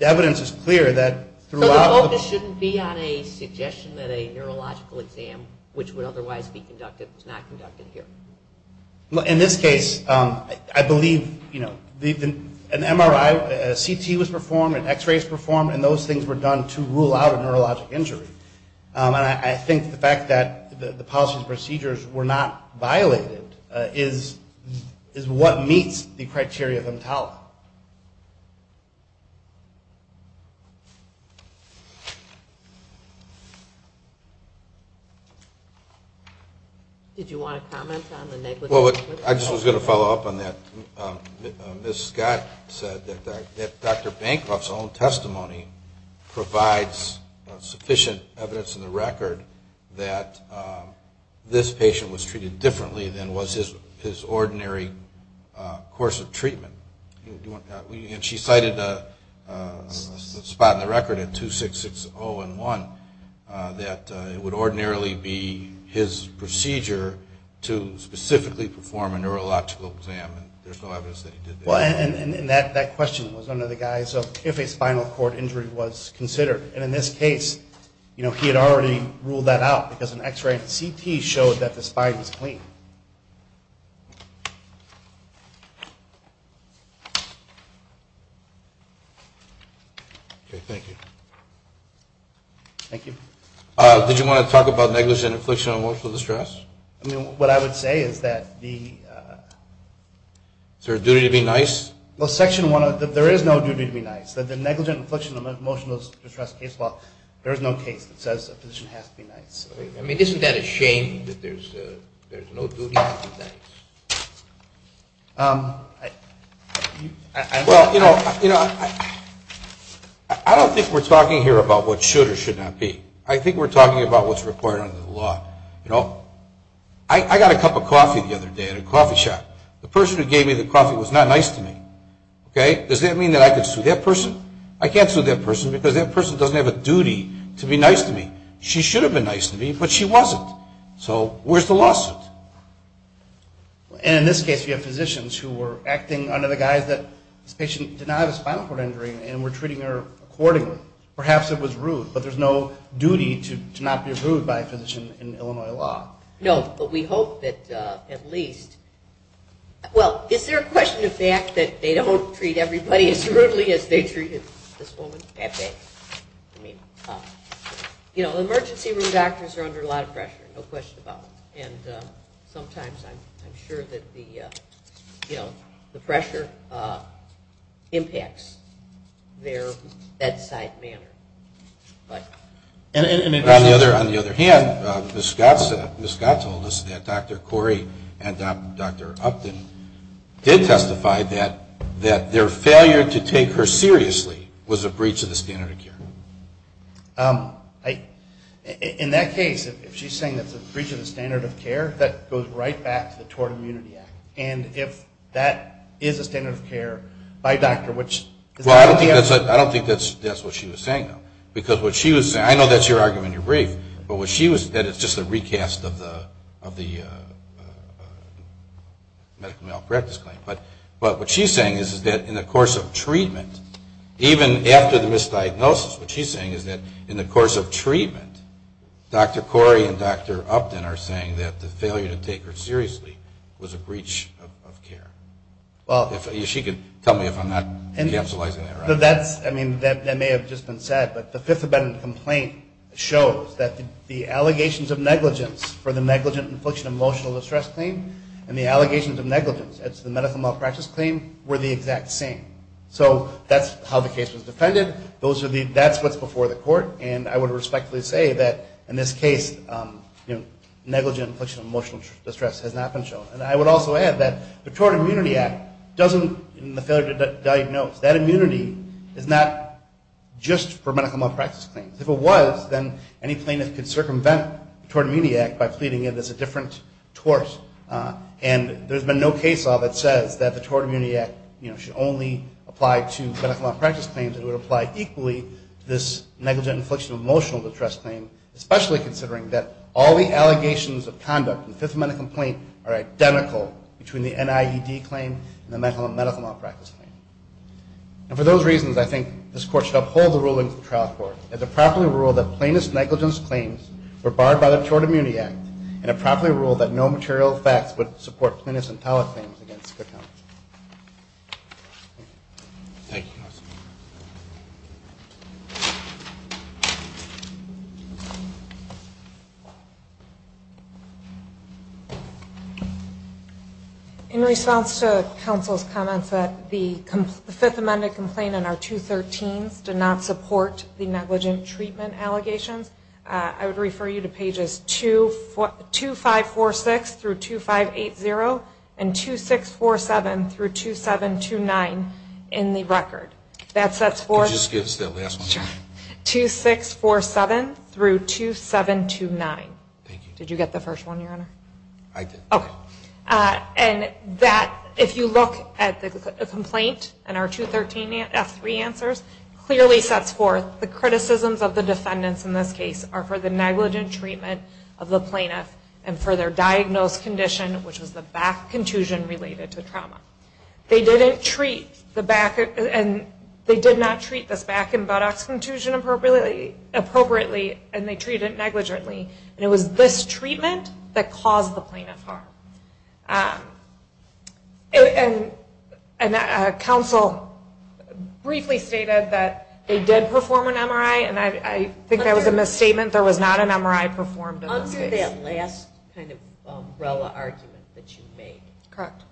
evidence is clear that throughout – So the focus shouldn't be on a suggestion that a neurological exam, which would otherwise be conducted, was not conducted here. In this case, I believe, you know, an MRI, a CT was performed, an X-ray was performed, and those things were done to rule out a neurologic injury. And I think the fact that the policies and procedures were not violated is what meets the criteria of EMTALA. Did you want to comment on the negligence? Well, I just was going to follow up on that. Ms. Scott said that Dr. Bancroft's own testimony provides sufficient evidence in the record that this patient was treated differently than was his ordinary course of treatment. And she cited a spot in the record in 2660 and 1 that it would ordinarily be his procedure to specifically perform a neurological exam. And there's no evidence that he did that at all. And that question was under the guise of if a spinal cord injury was considered. And in this case, you know, he had already ruled that out because an X-ray and CT showed that the spine was clean. Okay, thank you. Thank you. Did you want to talk about negligent infliction of emotional distress? I mean, what I would say is that the... Is there a duty to be nice? Well, Section 1, there is no duty to be nice. The negligent infliction of emotional distress case law, there is no case that says a physician has to be nice. I mean, isn't that a shame that there's no duty to be nice? Well, you know, I don't think we're talking here about what should or should not be. I think we're talking about what's required under the law. You know, I got a cup of coffee the other day at a coffee shop. The person who gave me the coffee was not nice to me, okay? Does that mean that I could sue that person? I can't sue that person because that person doesn't have a duty to be nice to me. She should have been nice to me, but she wasn't. So where's the lawsuit? And in this case, we have physicians who were acting under the guise that this patient did not have a spinal cord injury and we're treating her accordingly. Perhaps it was rude, but there's no duty to not be rude by a physician in Illinois law. No, but we hope that at least... Well, is there a question of the fact that they don't treat everybody as rudely as they treat this woman? That's it. You know, emergency room doctors are under a lot of pressure, no question about it. And sometimes I'm sure that the pressure impacts their bedside manner. On the other hand, Ms. Scott told us that Dr. Corey and Dr. Upton did testify that their failure to take her seriously was a breach of the standard of care. In that case, if she's saying it's a breach of the standard of care, that goes right back to the Tort Immunity Act. And if that is a standard of care by a doctor, which... Well, I don't think that's what she was saying, though. Because what she was saying, I know that's your argument in your brief, but what she was saying is just a recast of the medical malpractice claim. But what she's saying is that in the course of treatment, even after the misdiagnosis, what she's saying is that in the course of treatment, Dr. Corey and Dr. Upton are saying that the failure to take her seriously was a breach of care. If she could tell me if I'm not encapsulating that right. That may have just been said, but the Fifth Amendment complaint shows that the allegations of negligence for the negligent infliction of emotional distress claim and the allegations of negligence as to the medical malpractice claim were the exact same. So that's how the case was defended. That's what's before the court, and I would respectfully say that in this case, negligent infliction of emotional distress has not been shown. And I would also add that the Tort Immunity Act doesn't, in the failure to diagnose, that immunity is not just for medical malpractice claims. If it was, then any plaintiff could circumvent the Tort Immunity Act by pleading it as a different tort. And there's been no case law that says that the Tort Immunity Act should only apply to medical malpractice claims. It would apply equally to this negligent infliction of emotional distress claim, especially considering that all the allegations of conduct in the Fifth Amendment complaint are identical between the NIED claim and the medical malpractice claim. And for those reasons, I think this court should uphold the ruling of the trial court as it properly ruled that plaintiff's negligence claims were barred by the Tort Immunity Act and it properly ruled that no material facts would support plaintiff's intellectual claims against Cook County. Thank you. In response to counsel's comments that the Fifth Amendment complaint and our 213s do not support the negligent treatment allegations, I would refer you to pages 2546-2580 and 2647-2729 in the record. That sets forth... 2647-2729. Thank you. Did you get the first one, Your Honor? I did. Okay. And that, if you look at the complaint and our 213 F3 answers, clearly sets forth the criticisms of the defendants in this case are for the negligent treatment of the plaintiff and for their diagnosed condition, which was the back contusion related to trauma. They did not treat this back and buttocks contusion appropriately and they treated it negligently. And it was this treatment that caused the plaintiff harm. And counsel briefly stated that they did perform an MRI and I think that was a misstatement. There was not an MRI performed in this case. Under that last kind of umbrella argument that you made. Correct.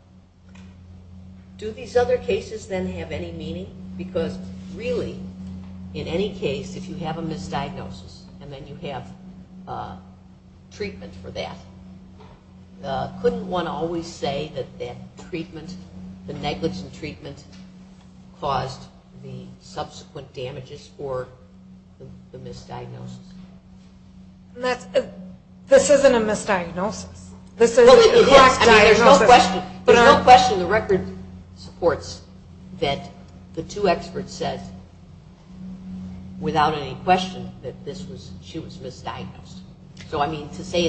Do these other cases then have any meaning? Because really, in any case, if you have a misdiagnosis and then you have treatment for that, couldn't one always say that that treatment, the negligent treatment, caused the subsequent damages for the misdiagnosis? This isn't a misdiagnosis. Well, it is. I mean, there's no question. There's no question. The record supports that the two experts said, without any question, that she was misdiagnosed. So, I mean, to say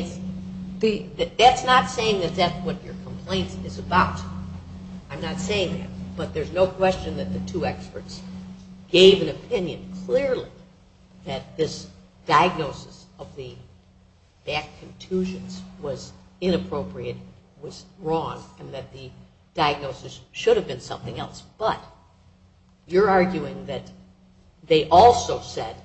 that's not saying that that's what your complaint is about. I'm not saying that. But there's no question that the two experts gave an opinion clearly that this diagnosis of the back contusions was inappropriate, was wrong, and that the diagnosis should have been something else. But you're arguing that they also said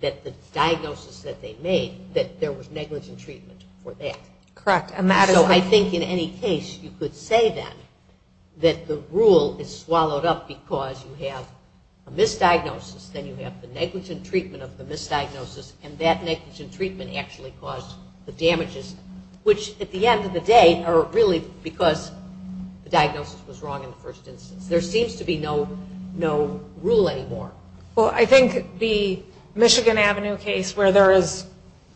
that the diagnosis that they made, that there was negligent treatment for that. Correct. So I think in any case you could say then that the rule is swallowed up because you have a misdiagnosis, then you have the negligent treatment of the misdiagnosis, and that negligent treatment actually caused the damages, which at the end of the day are really because the diagnosis was wrong in the first instance. There seems to be no rule anymore. Well, I think the Michigan Avenue case where there is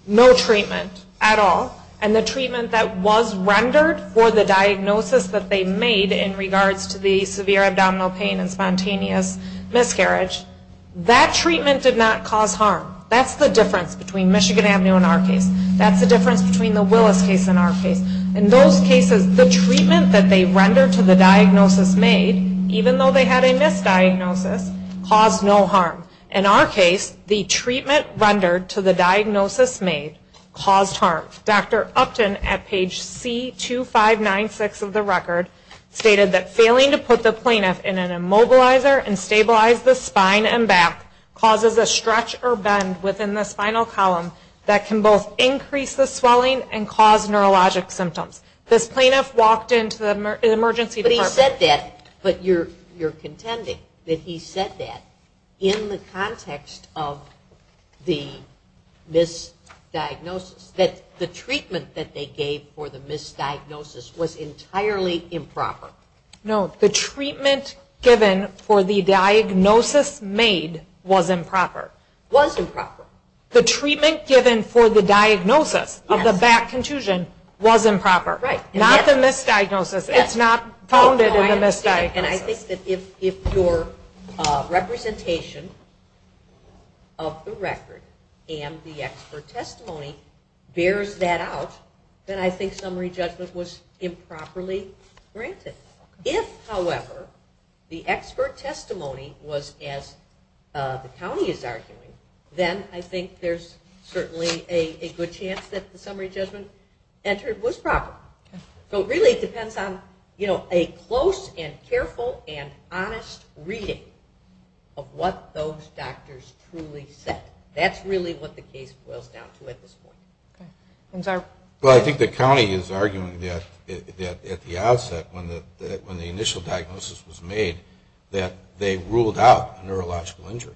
no treatment at all and the treatment that was rendered for the diagnosis that they made in regards to the severe abdominal pain and spontaneous miscarriage, that treatment did not cause harm. That's the difference between Michigan Avenue and our case. That's the difference between the Willis case and our case. In those cases, the treatment that they rendered to the diagnosis made, even though they had a misdiagnosis, caused no harm. In our case, the treatment rendered to the diagnosis made caused harm. Dr. Upton, at page C2596 of the record, stated that failing to put the plaintiff in an immobilizer and stabilize the spine and back causes a stretch or bend within the spinal column that can both increase the swelling and cause neurologic symptoms. This plaintiff walked into the emergency department. He said that, but you're contending that he said that in the context of the misdiagnosis, that the treatment that they gave for the misdiagnosis was entirely improper. No. The treatment given for the diagnosis made was improper. Was improper. The treatment given for the diagnosis of the back contusion was improper. Not the misdiagnosis. It's not founded in the misdiagnosis. I think that if your representation of the record and the expert testimony bears that out, then I think summary judgment was improperly granted. If, however, the expert testimony was as the county is arguing, then I think there's certainly a good chance that the summary judgment entered was proper. So it really depends on a close and careful and honest reading of what those doctors truly said. That's really what the case boils down to at this point. Well, I think the county is arguing that at the outset, when the initial diagnosis was made, that they ruled out a neurological injury.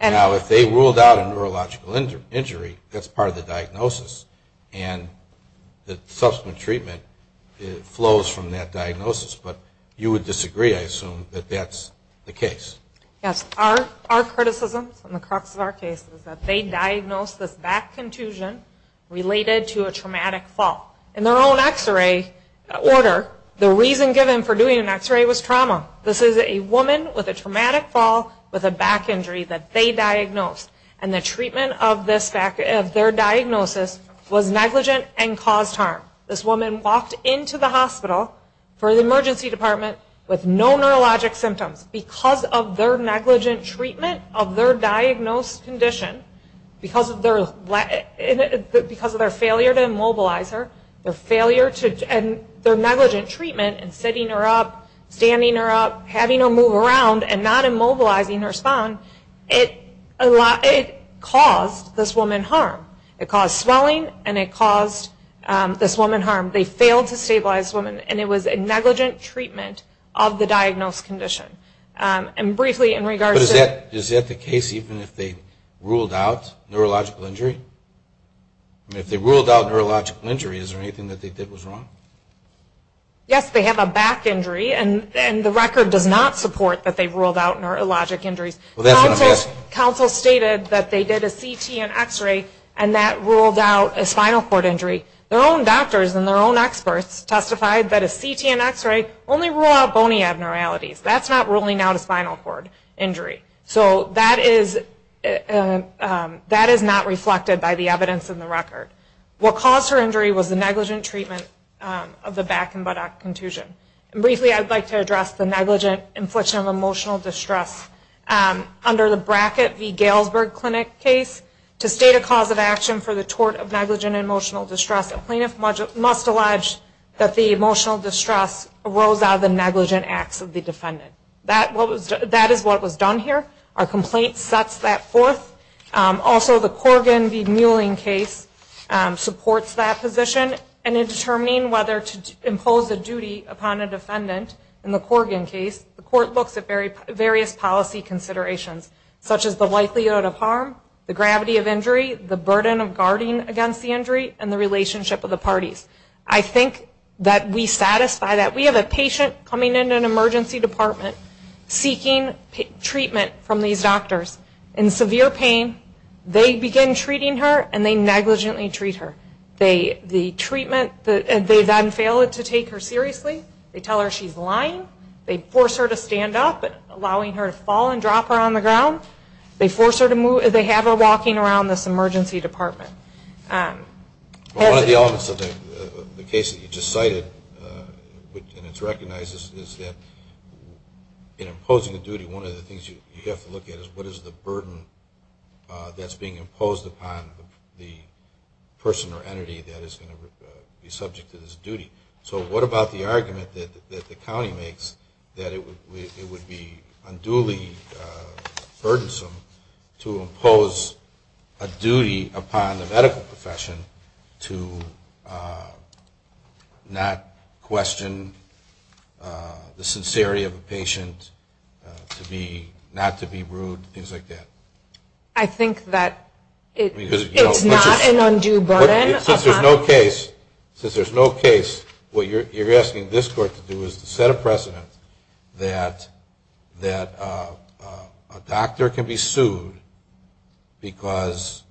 Now, if they ruled out a neurological injury, that's part of the diagnosis, and the subsequent treatment flows from that diagnosis. But you would disagree, I assume, that that's the case. Yes. Our criticism from the crux of our case is that they diagnosed this back contusion related to a traumatic fall. In their own x-ray order, the reason given for doing an x-ray was trauma. This is a woman with a traumatic fall with a back injury that they diagnosed. And the treatment of their diagnosis was negligent and caused harm. This woman walked into the hospital for the emergency department with no neurologic symptoms. Because of their negligent treatment of their diagnosed condition, because of their failure to immobilize her and their negligent treatment and sitting her up, standing her up, having her move around and not moving, it caused this woman harm. It caused swelling, and it caused this woman harm. They failed to stabilize this woman, and it was a negligent treatment of the diagnosed condition. And briefly, in regards to... But is that the case even if they ruled out neurological injury? I mean, if they ruled out neurological injury, is there anything that they did that was wrong? Yes. They have a back injury, and the record does not support that they ruled out neurologic injuries. Counsel stated that they did a CT and x-ray, and that ruled out a spinal cord injury. Their own doctors and their own experts testified that a CT and x-ray only ruled out bony abnormalities. That's not ruling out a spinal cord injury. So that is not reflected by the evidence in the record. What caused her injury was the negligent treatment of the back and buttock contusion. Briefly, I'd like to address the negligent infliction of emotional distress. Under the Brackett v. Galesburg Clinic case, to state a cause of action for the tort of negligent emotional distress, a plaintiff must allege that the emotional distress arose out of the negligent acts of the defendant. That is what was done here. Our complaint sets that forth. Also, the Corgan v. Muehling case supports that position. In determining whether to impose a duty upon a defendant in the Corgan case, the court looks at various policy considerations, such as the likelihood of harm, the gravity of injury, the burden of guarding against the injury, and the relationship with the parties. I think that we satisfy that. We have a patient coming into an emergency department seeking treatment from these doctors in severe pain. They begin treating her, and they negligently treat her. They then fail to take her seriously. They tell her she's lying. They force her to stand up, allowing her to fall and drop her on the ground. They have her walking around this emergency department. One of the elements of the case that you just cited, and it's recognized, is that in imposing a duty, one of the things you have to look at is what is the burden that's being imposed upon the person or entity that is going to be subject to this duty. So what about the argument that the county makes that it would be unduly burdensome to impose a duty upon the medical profession to not question the sincerity of a patient, not to be rude, things like that? I think that it's not an undue burden. Since there's no case, what you're asking this court to do is to set a precedent that a doctor can be sued because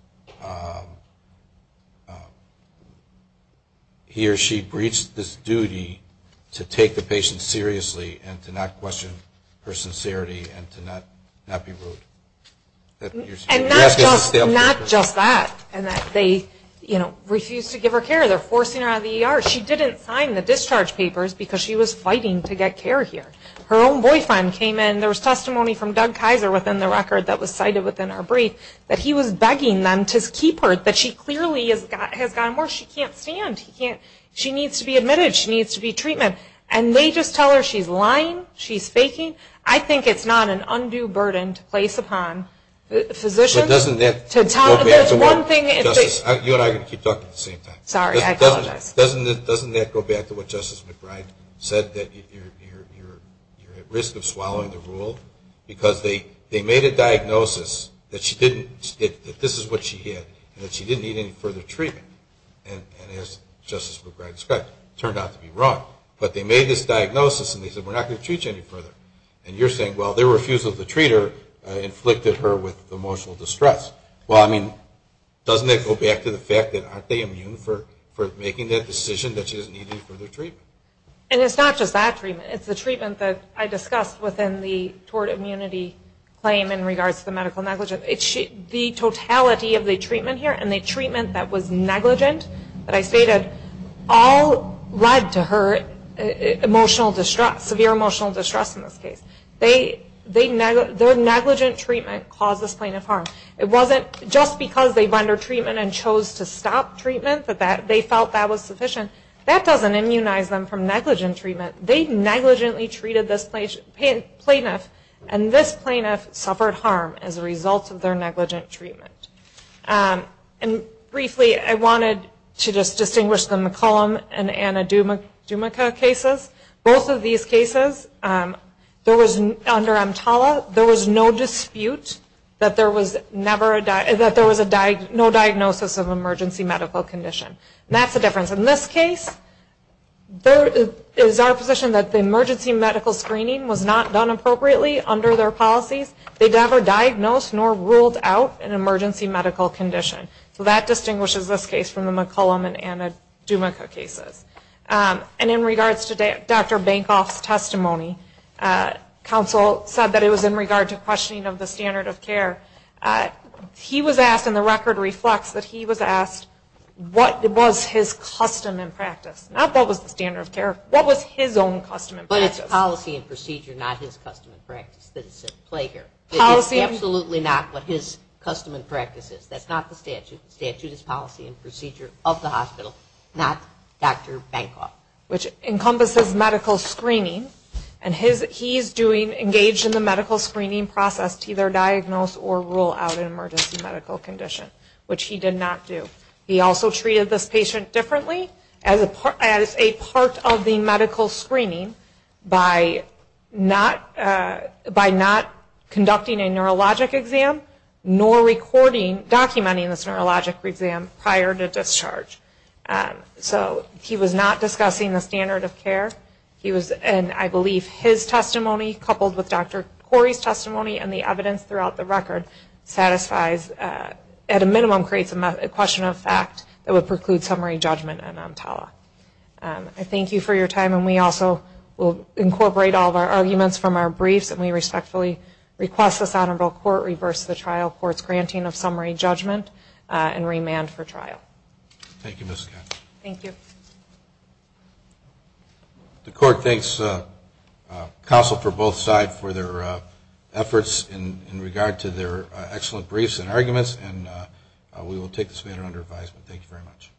he or she breached this duty to take the patient seriously and to not question her sincerity and to not be rude. And not just that, and that they refuse to give her care. They're forcing her out of the ER. She didn't sign the discharge papers because she was fighting to get care here. Her own boyfriend came in. There was testimony from Doug Kaiser within the record that was cited within our brief that he was begging them to keep her, that she clearly has gotten worse. She can't stand. She needs to be admitted. She needs to be treated. And they just tell her she's lying, she's faking. I think it's not an undue burden to place upon physicians. But doesn't that go back to what Justice McBride said, that you're at risk of swallowing the rule? Because they made a diagnosis that this is what she had and that she didn't need any further treatment. And as Justice McBride described, it turned out to be wrong. But they made this diagnosis and they said, we're not going to treat you any further. And you're saying, well, their refusal to treat her inflicted her with emotional distress. Well, I mean, doesn't that go back to the fact that aren't they immune for making that decision that she doesn't need any further treatment? And it's not just that treatment. It's the treatment that I discussed within the toward immunity claim in regards to the medical negligence. The totality of the treatment here and the treatment that was negligent that I stated all led to her severe emotional distress in this case. Their negligent treatment caused this plaintiff harm. It wasn't just because they rendered treatment and chose to stop treatment that they felt that was sufficient. That doesn't immunize them from negligent treatment. They negligently treated this plaintiff, and this plaintiff suffered harm as a result of their negligent treatment. And briefly, I wanted to just distinguish the McCollum and Anna Dumica cases. Both of these cases, under EMTALA, there was no dispute that there was no diagnosis That's the difference. In this case, there is our position that the emergency medical screening was not done appropriately under their policies. They never diagnosed nor ruled out an emergency medical condition. So that distinguishes this case from the McCollum and Anna Dumica cases. And in regards to Dr. Bankoff's testimony, counsel said that it was in regard to questioning of the standard of care. He was asked, and the record reflects that he was asked, what was his custom and practice? Not what was the standard of care. What was his own custom and practice? But it's policy and procedure, not his custom and practice that is at play here. It is absolutely not what his custom and practice is. That's not the statute. The statute is policy and procedure of the hospital, not Dr. Bankoff. Which encompasses medical screening. And he's engaged in the medical screening process to either diagnose or rule out an emergency medical condition, which he did not do. He also treated this patient differently as a part of the medical screening by not conducting a neurologic exam, nor documenting this neurologic exam prior to discharge. So he was not discussing the standard of care. He was, and I believe his testimony coupled with Dr. Corey's testimony and the evidence throughout the record satisfies, at a minimum creates a question of fact that would preclude summary judgment in EMTALA. I thank you for your time, and we also will incorporate all of our arguments from our briefs, and we respectfully request this honorable court reverse the trial court's granting of summary judgment and remand for trial. Thank you, Ms. Katz. Thank you. The court thanks counsel for both sides for their efforts in regard to their excellent briefs and arguments, and we will take this matter under advisement. Thank you very much.